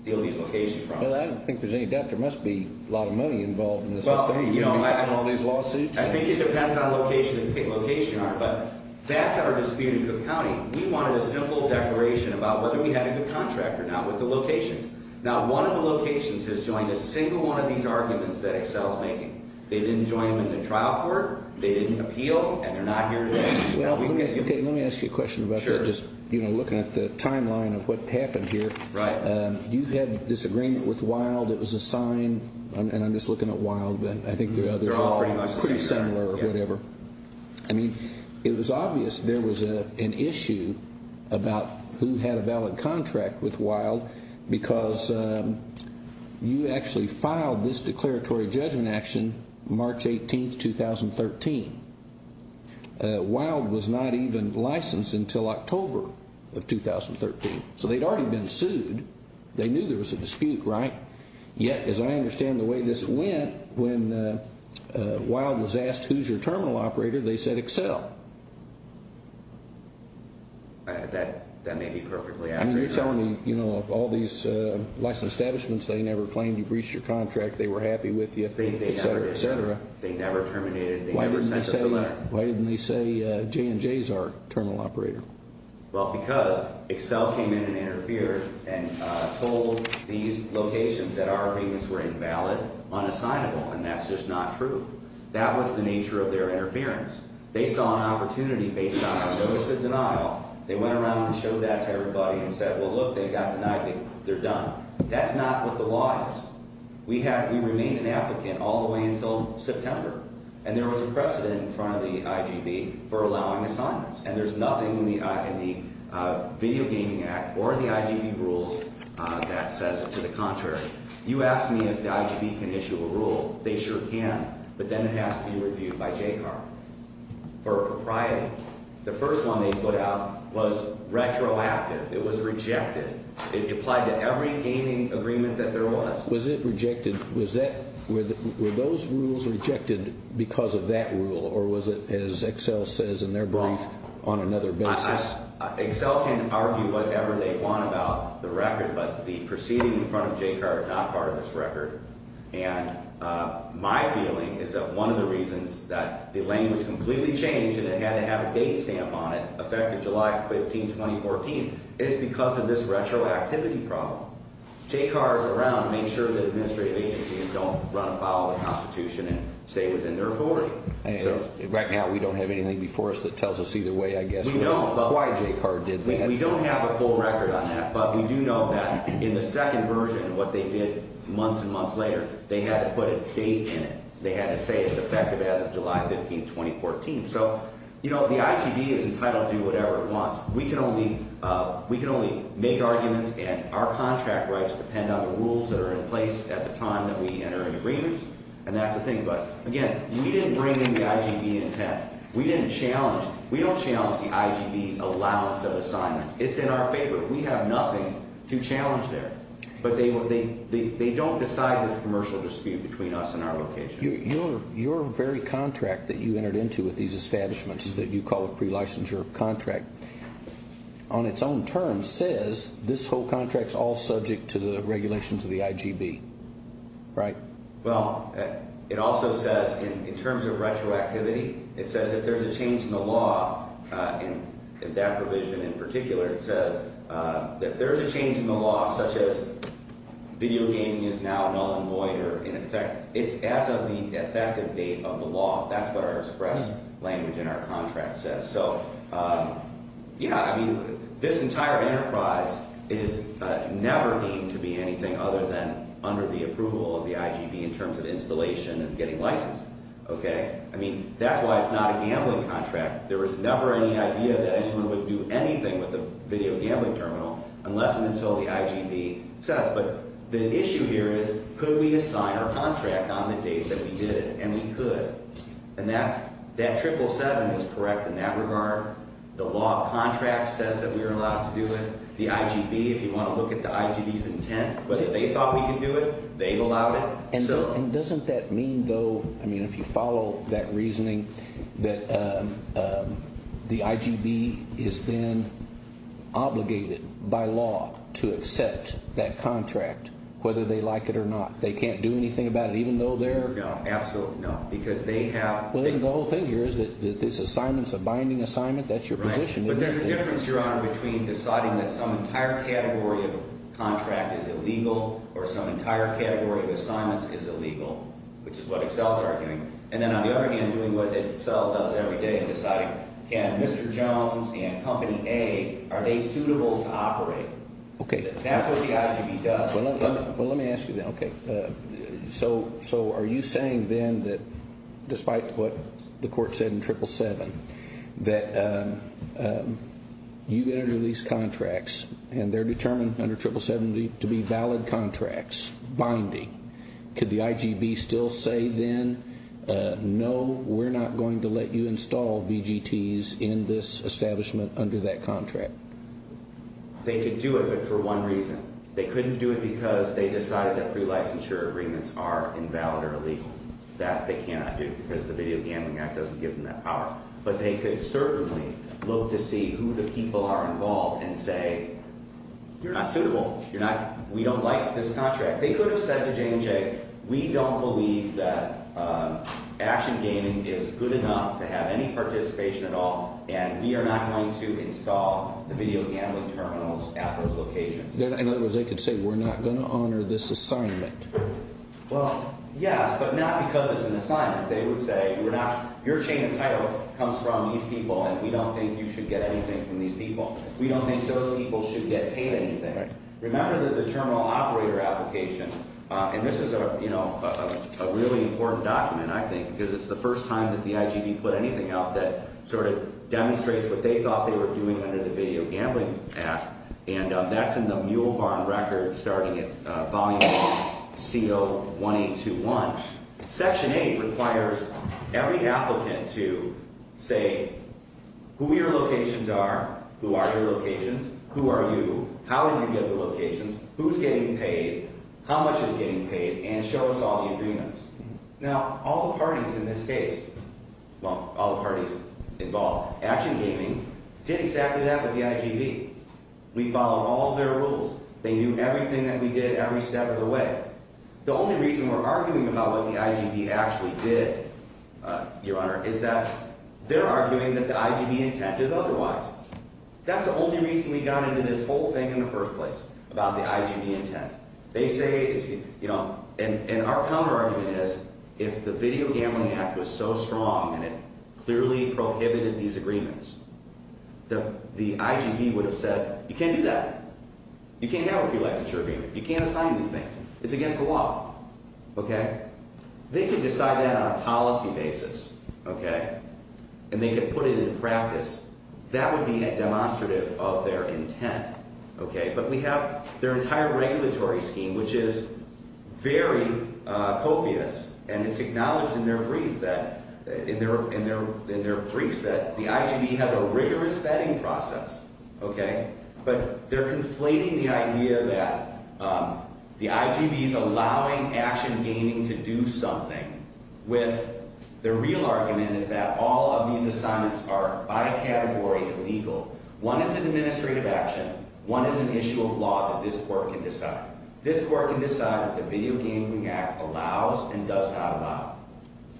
steal these locations from us. Well, I don't think there's any doubt there must be a lot of money involved in this up there. Well, you know, I think it depends on the location you're on, but that's our dispute in Cook County. We wanted a simple declaration about whether we had a good contract or not with the locations. Not one of the locations has joined a single one of these arguments that Excel's making. They didn't join them in the trial court. They didn't appeal, and they're not here today. Well, okay, let me ask you a question about that. Sure. Just, you know, looking at the timeline of what happened here. Right. You had this agreement with Wilde. It was a sign, and I'm just looking at Wilde, but I think the others are pretty similar or whatever. Yeah. I mean, it was obvious there was an issue about who had a valid contract with Wilde because you actually filed this declaratory judgment action March 18, 2013. Wilde was not even licensed until October of 2013. So they'd already been sued. They knew there was a dispute, right? Yet, as I understand the way this went, when Wilde was asked who's your terminal operator, they said Excel. That may be perfectly accurate. I mean, you're telling me, you know, of all these license establishments, they never claimed you breached your contract. They were happy with you, et cetera, et cetera. They never terminated. Why didn't they say J&J's our terminal operator? Well, because Excel came in and interfered and told these locations that our agreements were invalid, unassignable, and that's just not true. That was the nature of their interference. They saw an opportunity based on our notice of denial. They went around and showed that to everybody and said, well, look, they got denied. They're done. That's not what the law is. We remained an applicant all the way until September, and there was a precedent in front of the IGB for allowing assignments, and there's nothing in the Video Gaming Act or the IGB rules that says to the contrary. You asked me if the IGB can issue a rule. They sure can, but then it has to be reviewed by JCAR for propriety. The first one they put out was retroactive. It was rejected. It applied to every gaming agreement that there was. Was it rejected? Were those rules rejected because of that rule, or was it, as Excel says in their brief, on another basis? Excel can argue whatever they want about the record, but the proceeding in front of JCAR is not part of this record. My feeling is that one of the reasons that the language completely changed and it had to have a date stamp on it, effective July 15, 2014, is because of this retroactivity problem. JCAR is around to make sure that administrative agencies don't run afoul of the Constitution and stay within their authority. Right now we don't have anything before us that tells us either way, I guess, why JCAR did that. But we do know that in the second version, what they did months and months later, they had to put a date in it. They had to say it's effective as of July 15, 2014. So, you know, the IGB is entitled to do whatever it wants. We can only make arguments, and our contract rights depend on the rules that are in place at the time that we enter into agreements, and that's the thing. But, again, we didn't bring in the IGB intent. We didn't challenge. We don't challenge the IGB's allowance of assignments. It's in our favor. We have nothing to challenge there. But they don't decide this commercial dispute between us and our location. Your very contract that you entered into with these establishments that you call a pre-licensure contract, on its own terms, says this whole contract's all subject to the regulations of the IGB, right? Well, it also says, in terms of retroactivity, it says if there's a change in the law in that provision in particular, it says if there's a change in the law, such as video gaming is now null and void or in effect, it's as of the effective date of the law. That's what our express language in our contract says. So, yeah, I mean, this entire enterprise is never deemed to be anything other than under the approval of the IGB in terms of installation and getting licensed, okay? I mean, that's why it's not a gambling contract. There was never any idea that anyone would do anything with a video gambling terminal unless and until the IGB says. But the issue here is could we assign our contract on the date that we did it? And we could. And that triple seven is correct in that regard. The law of contracts says that we are allowed to do it. The IGB, if you want to look at the IGB's intent, whether they thought we could do it, they allowed it. And doesn't that mean, though, I mean, if you follow that reasoning, that the IGB is then obligated by law to accept that contract whether they like it or not. They can't do anything about it even though they're. No, absolutely not. Because they have. Well, the whole thing here is that this assignment is a binding assignment. That's your position. But there's a difference, Your Honor, between deciding that some entire category of contract is illegal or some entire category of assignments is illegal, which is what Excel is arguing. And then on the other hand, doing what Excel does every day and deciding can Mr. Jones and Company A, are they suitable to operate? Okay. That's what the IGB does. Well, let me ask you then. Okay. So are you saying then that despite what the court said in 777, that you get under these contracts and they're determined under 777 to be valid contracts, binding. Could the IGB still say then, no, we're not going to let you install VGTs in this establishment under that contract? They could do it, but for one reason. They couldn't do it because they decided that pre-licensure agreements are invalid or illegal. That they cannot do because the Video Gambling Act doesn't give them that power. But they could certainly look to see who the people are involved and say, you're not suitable. You're not – we don't like this contract. They could have said to J&J, we don't believe that action gaming is good enough to have any participation at all, and we are not going to install the video gambling terminals at those locations. In other words, they could say, we're not going to honor this assignment. Well, yes, but not because it's an assignment. They would say, we're not – your chain of title comes from these people, and we don't think you should get anything from these people. We don't think those people should get paid anything. Remember that the terminal operator application – and this is a really important document, I think, because it's the first time that the IGB put anything out that sort of demonstrates what they thought they were doing under the Video Gambling Act. And that's in the Mule Barn Record starting at volume C01821. Section 8 requires every applicant to say who your locations are, who are your locations, who are you, how did you get the locations, who's getting paid, how much is getting paid, and show us all the agreements. Now, all the parties in this case – well, all the parties involved – Action Gaming did exactly that with the IGB. We followed all their rules. They knew everything that we did every step of the way. The only reason we're arguing about what the IGB actually did, Your Honor, is that they're arguing that the IGB intent is otherwise. That's the only reason we got into this whole thing in the first place about the IGB intent. They say – and our counterargument is if the Video Gambling Act was so strong and it clearly prohibited these agreements, the IGB would have said, you can't do that. You can't have a few licensure agreements. You can't assign these things. It's against the law. They could decide that on a policy basis, and they could put it into practice. That would be demonstrative of their intent. But we have their entire regulatory scheme, which is very copious, and it's acknowledged in their briefs that the IGB has a rigorous vetting process. But they're conflating the idea that the IGB is allowing Action Gaming to do something with their real argument is that all of these assignments are by category illegal. One is an administrative action. One is an issue of law that this Court can decide. This Court can decide that the Video Gambling Act allows and does not allow,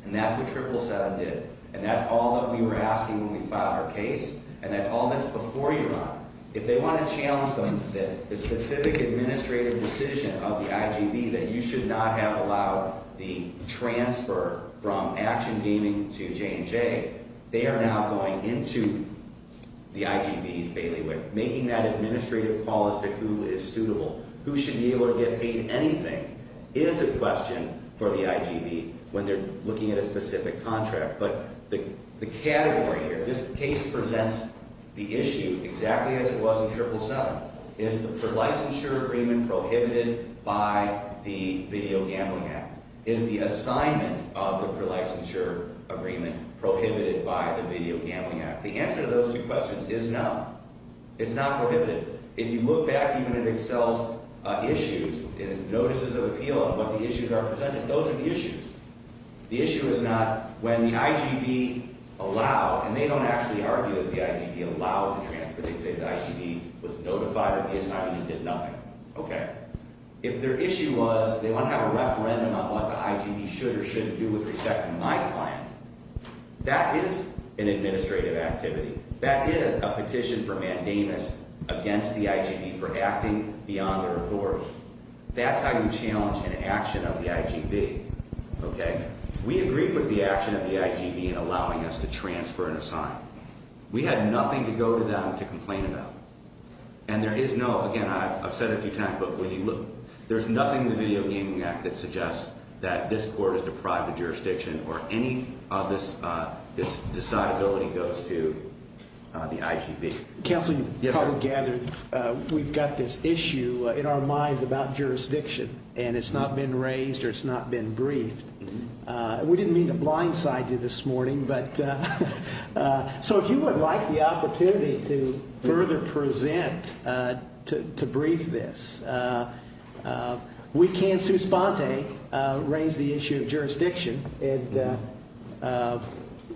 and that's what Triple 7 did, and that's all that we were asking when we filed our case, and that's all that's before you, Your Honor. If they want to challenge the specific administrative decision of the IGB that you should not have allowed the transfer from Action Gaming to J&J, they are now going into the IGB's bailiwick, making that administrative call as to who is suitable. Who should be able to get paid anything is a question for the IGB when they're looking at a specific contract. But the category here, this case presents the issue exactly as it was in Triple 7. Is the prelicensure agreement prohibited by the Video Gambling Act? Is the assignment of the prelicensure agreement prohibited by the Video Gambling Act? The answer to those two questions is no. It's not prohibited. If you look back even at Excel's issues and notices of appeal on what the issues are presented, those are the issues. The issue is not when the IGB allow, and they don't actually argue that the IGB allow the transfer. They say the IGB was notified of the assignment and did nothing. Okay. If their issue was they want to have a referendum on what the IGB should or shouldn't do with respect to my client, that is an administrative activity. That is a petition for mandamus against the IGB for acting beyond their authority. That's how you challenge an action of the IGB. Okay. We agreed with the action of the IGB in allowing us to transfer an assignment. We had nothing to go to them to complain about. And there is no, again, I've said it a few times, but when you look, there's nothing in the Video Gambling Act that suggests that this court is deprived of jurisdiction or any of this decidability goes to the IGB. Counsel, you probably gathered we've got this issue in our minds about jurisdiction, and it's not been raised or it's not been briefed. We didn't mean to blindside you this morning, but so if you would like the opportunity to further present to brief this, we can, Sue Sponte, raise the issue of jurisdiction.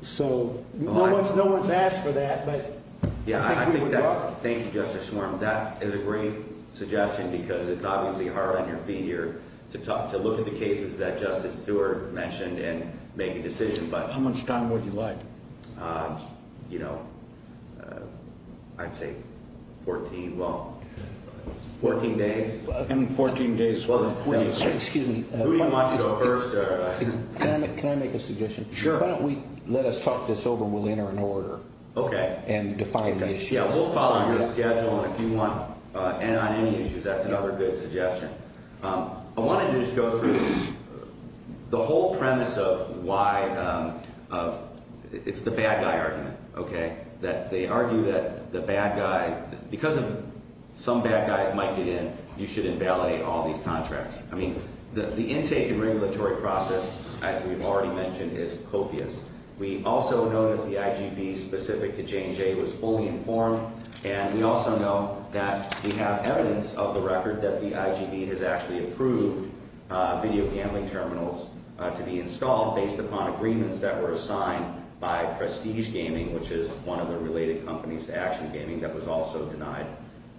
So no one's no one's asked for that. But yeah, I think that's thank you, Justice Schwarm. That is a great suggestion because it's obviously hard on your feet here to talk to look at the cases that Justice Stewart mentioned and make a decision. But how much time would you like? You know, I'd say 14. Well, 14 days and 14 days. Well, excuse me. Can I make a suggestion? Sure. Why don't we let us talk this over? We'll enter an order. OK. And define the issues. Yeah, we'll follow your schedule if you want. And on any issues, that's another good suggestion. I wanted to just go through the whole premise of why of it's the bad guy argument, OK, that they argue that the bad guy because of some bad guys might get in. You should invalidate all these contracts. I mean, the intake and regulatory process, as we've already mentioned, is copious. We also know that the IGB specific to J&J was fully informed. And we also know that we have evidence of the record that the IGB has actually approved video handling terminals to be installed based upon agreements that were signed by Prestige Gaming, which is one of the related companies to Action Gaming that was also denied.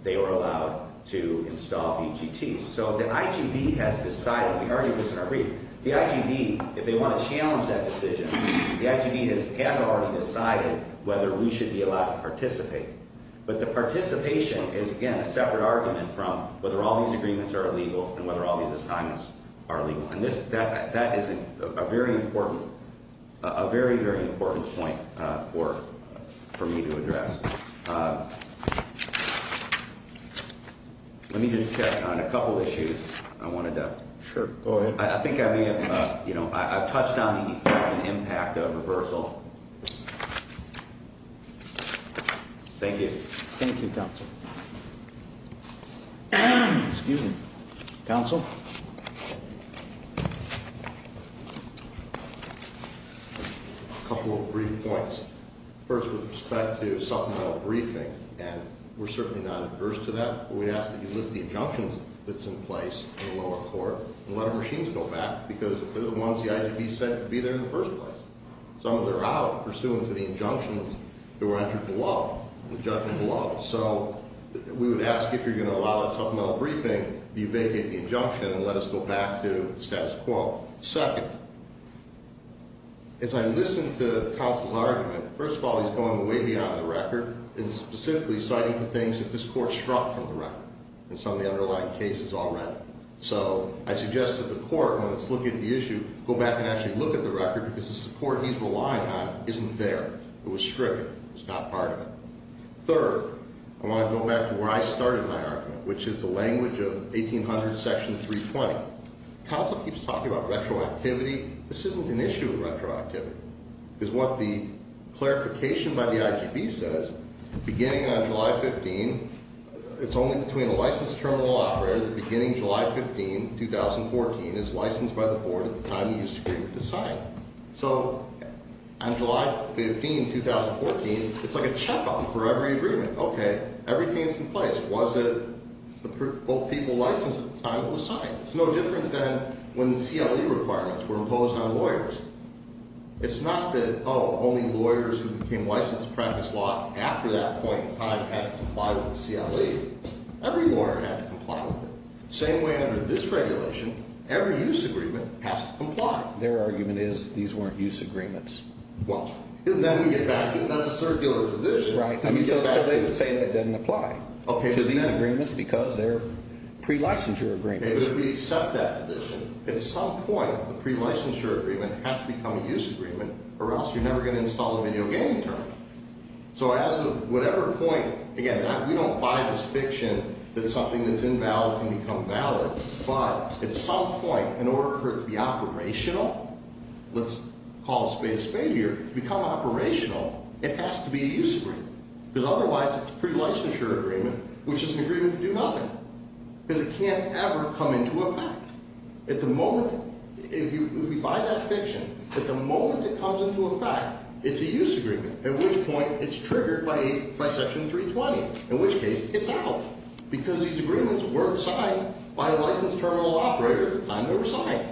They were allowed to install VGTs. So the IGB has decided. We argued this in our brief. The IGB, if they want to challenge that decision, the IGB has already decided whether we should be allowed to participate. But the participation is, again, a separate argument from whether all these agreements are illegal and whether all these assignments are illegal. And that is a very important point for me to address. Let me just check on a couple of issues. I wanted to. Sure. I think I may have, you know, I've touched on the impact of reversal. Thank you. Thank you, counsel. Excuse me, counsel. A couple of brief points. First, with respect to supplemental briefing, and we're certainly not adverse to that, but we'd ask that you lift the injunctions that's in place in the lower court and let our machines go back because they're the ones the IGB said would be there in the first place. Some of them are out pursuant to the injunctions that were entered below, the judgment below. So we would ask if you're going to allow that supplemental briefing, do you vacate the injunction and let us go back to the status quo? Second, as I listened to counsel's argument, first of all, he's going way beyond the record and specifically citing the things that this court struck from the record and some of the underlying cases already. So I suggest that the court, when it's looking at the issue, go back and actually look at the record because the support he's relying on isn't there. It was stricken. It's not part of it. Third, I want to go back to where I started my argument, which is the language of 1800, section 320. Counsel keeps talking about retroactivity. This isn't an issue of retroactivity. Because what the clarification by the IGB says, beginning on July 15, it's only between a licensed terminal operator, the beginning of July 15, 2014, is licensed by the board at the time of use agreement to sign. So on July 15, 2014, it's like a checkup for every agreement. Okay, everything's in place. Was it both people licensed at the time it was signed? It's no different than when the CLE requirements were imposed on lawyers. It's not that, oh, only lawyers who became licensed to practice law after that point in time had to comply with the CLE. Every lawyer had to comply with it. Same way under this regulation, every use agreement has to comply. Their argument is these weren't use agreements. Well, then we get back to that circular position. Right. So they would say that doesn't apply to these agreements because they're pre-licensure agreements. It would be to accept that position. At some point, the pre-licensure agreement has to become a use agreement or else you're never going to install a video gaming terminal. So as of whatever point, again, we don't buy this fiction that something that's invalid can become valid. But at some point, in order for it to be operational, let's call it space failure, to become operational, it has to be a use agreement. Because otherwise it's a pre-licensure agreement, which is an agreement to do nothing. Because it can't ever come into effect. At the moment, if you buy that fiction, at the moment it comes into effect, it's a use agreement, at which point it's triggered by Section 320, in which case it's out. Because these agreements weren't signed by a licensed terminal operator at the time they were signed.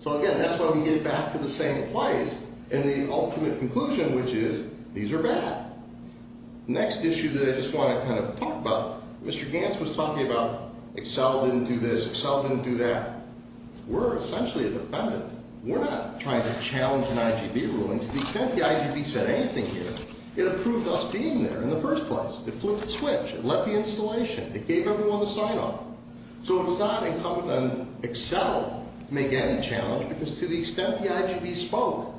So, again, that's when we get back to the same place and the ultimate conclusion, which is these are bad. Next issue that I just want to kind of talk about, Mr. Gantz was talking about Excel didn't do this, Excel didn't do that. We're essentially a defendant. We're not trying to challenge an IGB ruling. To the extent the IGB said anything here, it approved us being there in the first place. It flipped the switch. It let the installation. It gave everyone the sign-off. So it's not incumbent on Excel to make any challenge because to the extent the IGB spoke,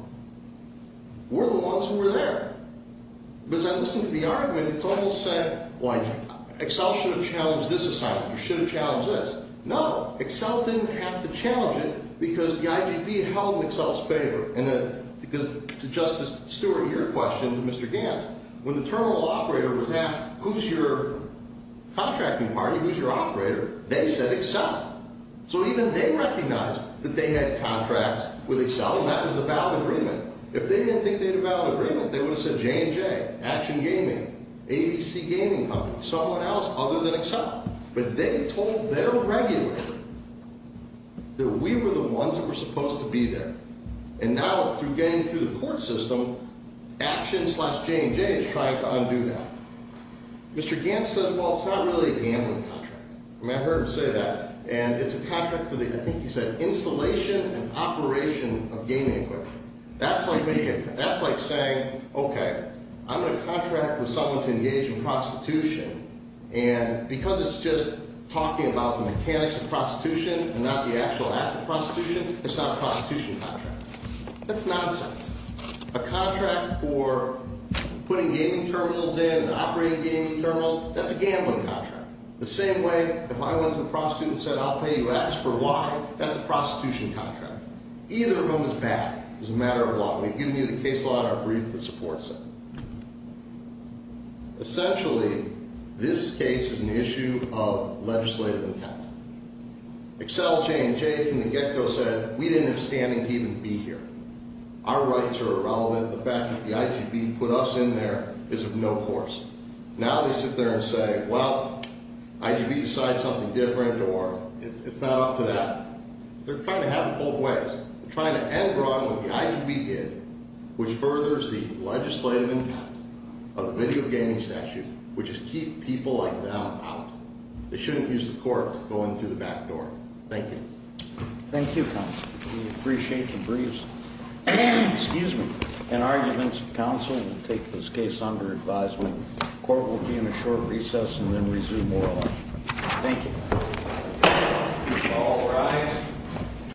we're the ones who were there. But as I listen to the argument, it's almost said, well, Excel should have challenged this assignment. You should have challenged this. No, Excel didn't have to challenge it because the IGB held Excel's favor. And to Justice Stewart, your question to Mr. Gantz, when the terminal operator was asked, who's your contracting party, who's your operator, they said Excel. So even they recognized that they had contracts with Excel, and that was a valid agreement. If they didn't think they had a valid agreement, they would have said J&J, Action Gaming, ABC Gaming Company, someone else other than Excel. But they told their regulator that we were the ones that were supposed to be there. And now through getting through the court system, Action slash J&J is trying to undo that. Mr. Gantz says, well, it's not really a gambling contract. I mean, I've heard him say that. And it's a contract for the, I think he said, installation and operation of gaming equipment. That's like saying, OK, I'm going to contract with someone to engage in prostitution. And because it's just talking about the mechanics of prostitution and not the actual act of prostitution, it's not a prostitution contract. That's nonsense. A contract for putting gaming terminals in and operating gaming terminals, that's a gambling contract. The same way if I went to a prostitute and said I'll pay you X for Y, that's a prostitution contract. Either of them is bad. It's a matter of law. We've given you the case law and our brief that supports it. Essentially, this case is an issue of legislative intent. Excel, J&J from the get-go said we didn't have standing to even be here. Our rights are irrelevant. The fact that the IGB put us in there is of no course. Now they sit there and say, well, IGB decides something different or it's not up to that. They're trying to have it both ways. They're trying to end wrong what the IGB did, which furthers the legislative intent of the video gaming statute, which is keep people like them out. They shouldn't use the court to go in through the back door. Thank you. Thank you, counsel. We appreciate the briefs. Excuse me. In arguments, counsel will take this case under advisement. Court will be in a short recess and then resume oral argument. Thank you. All rise.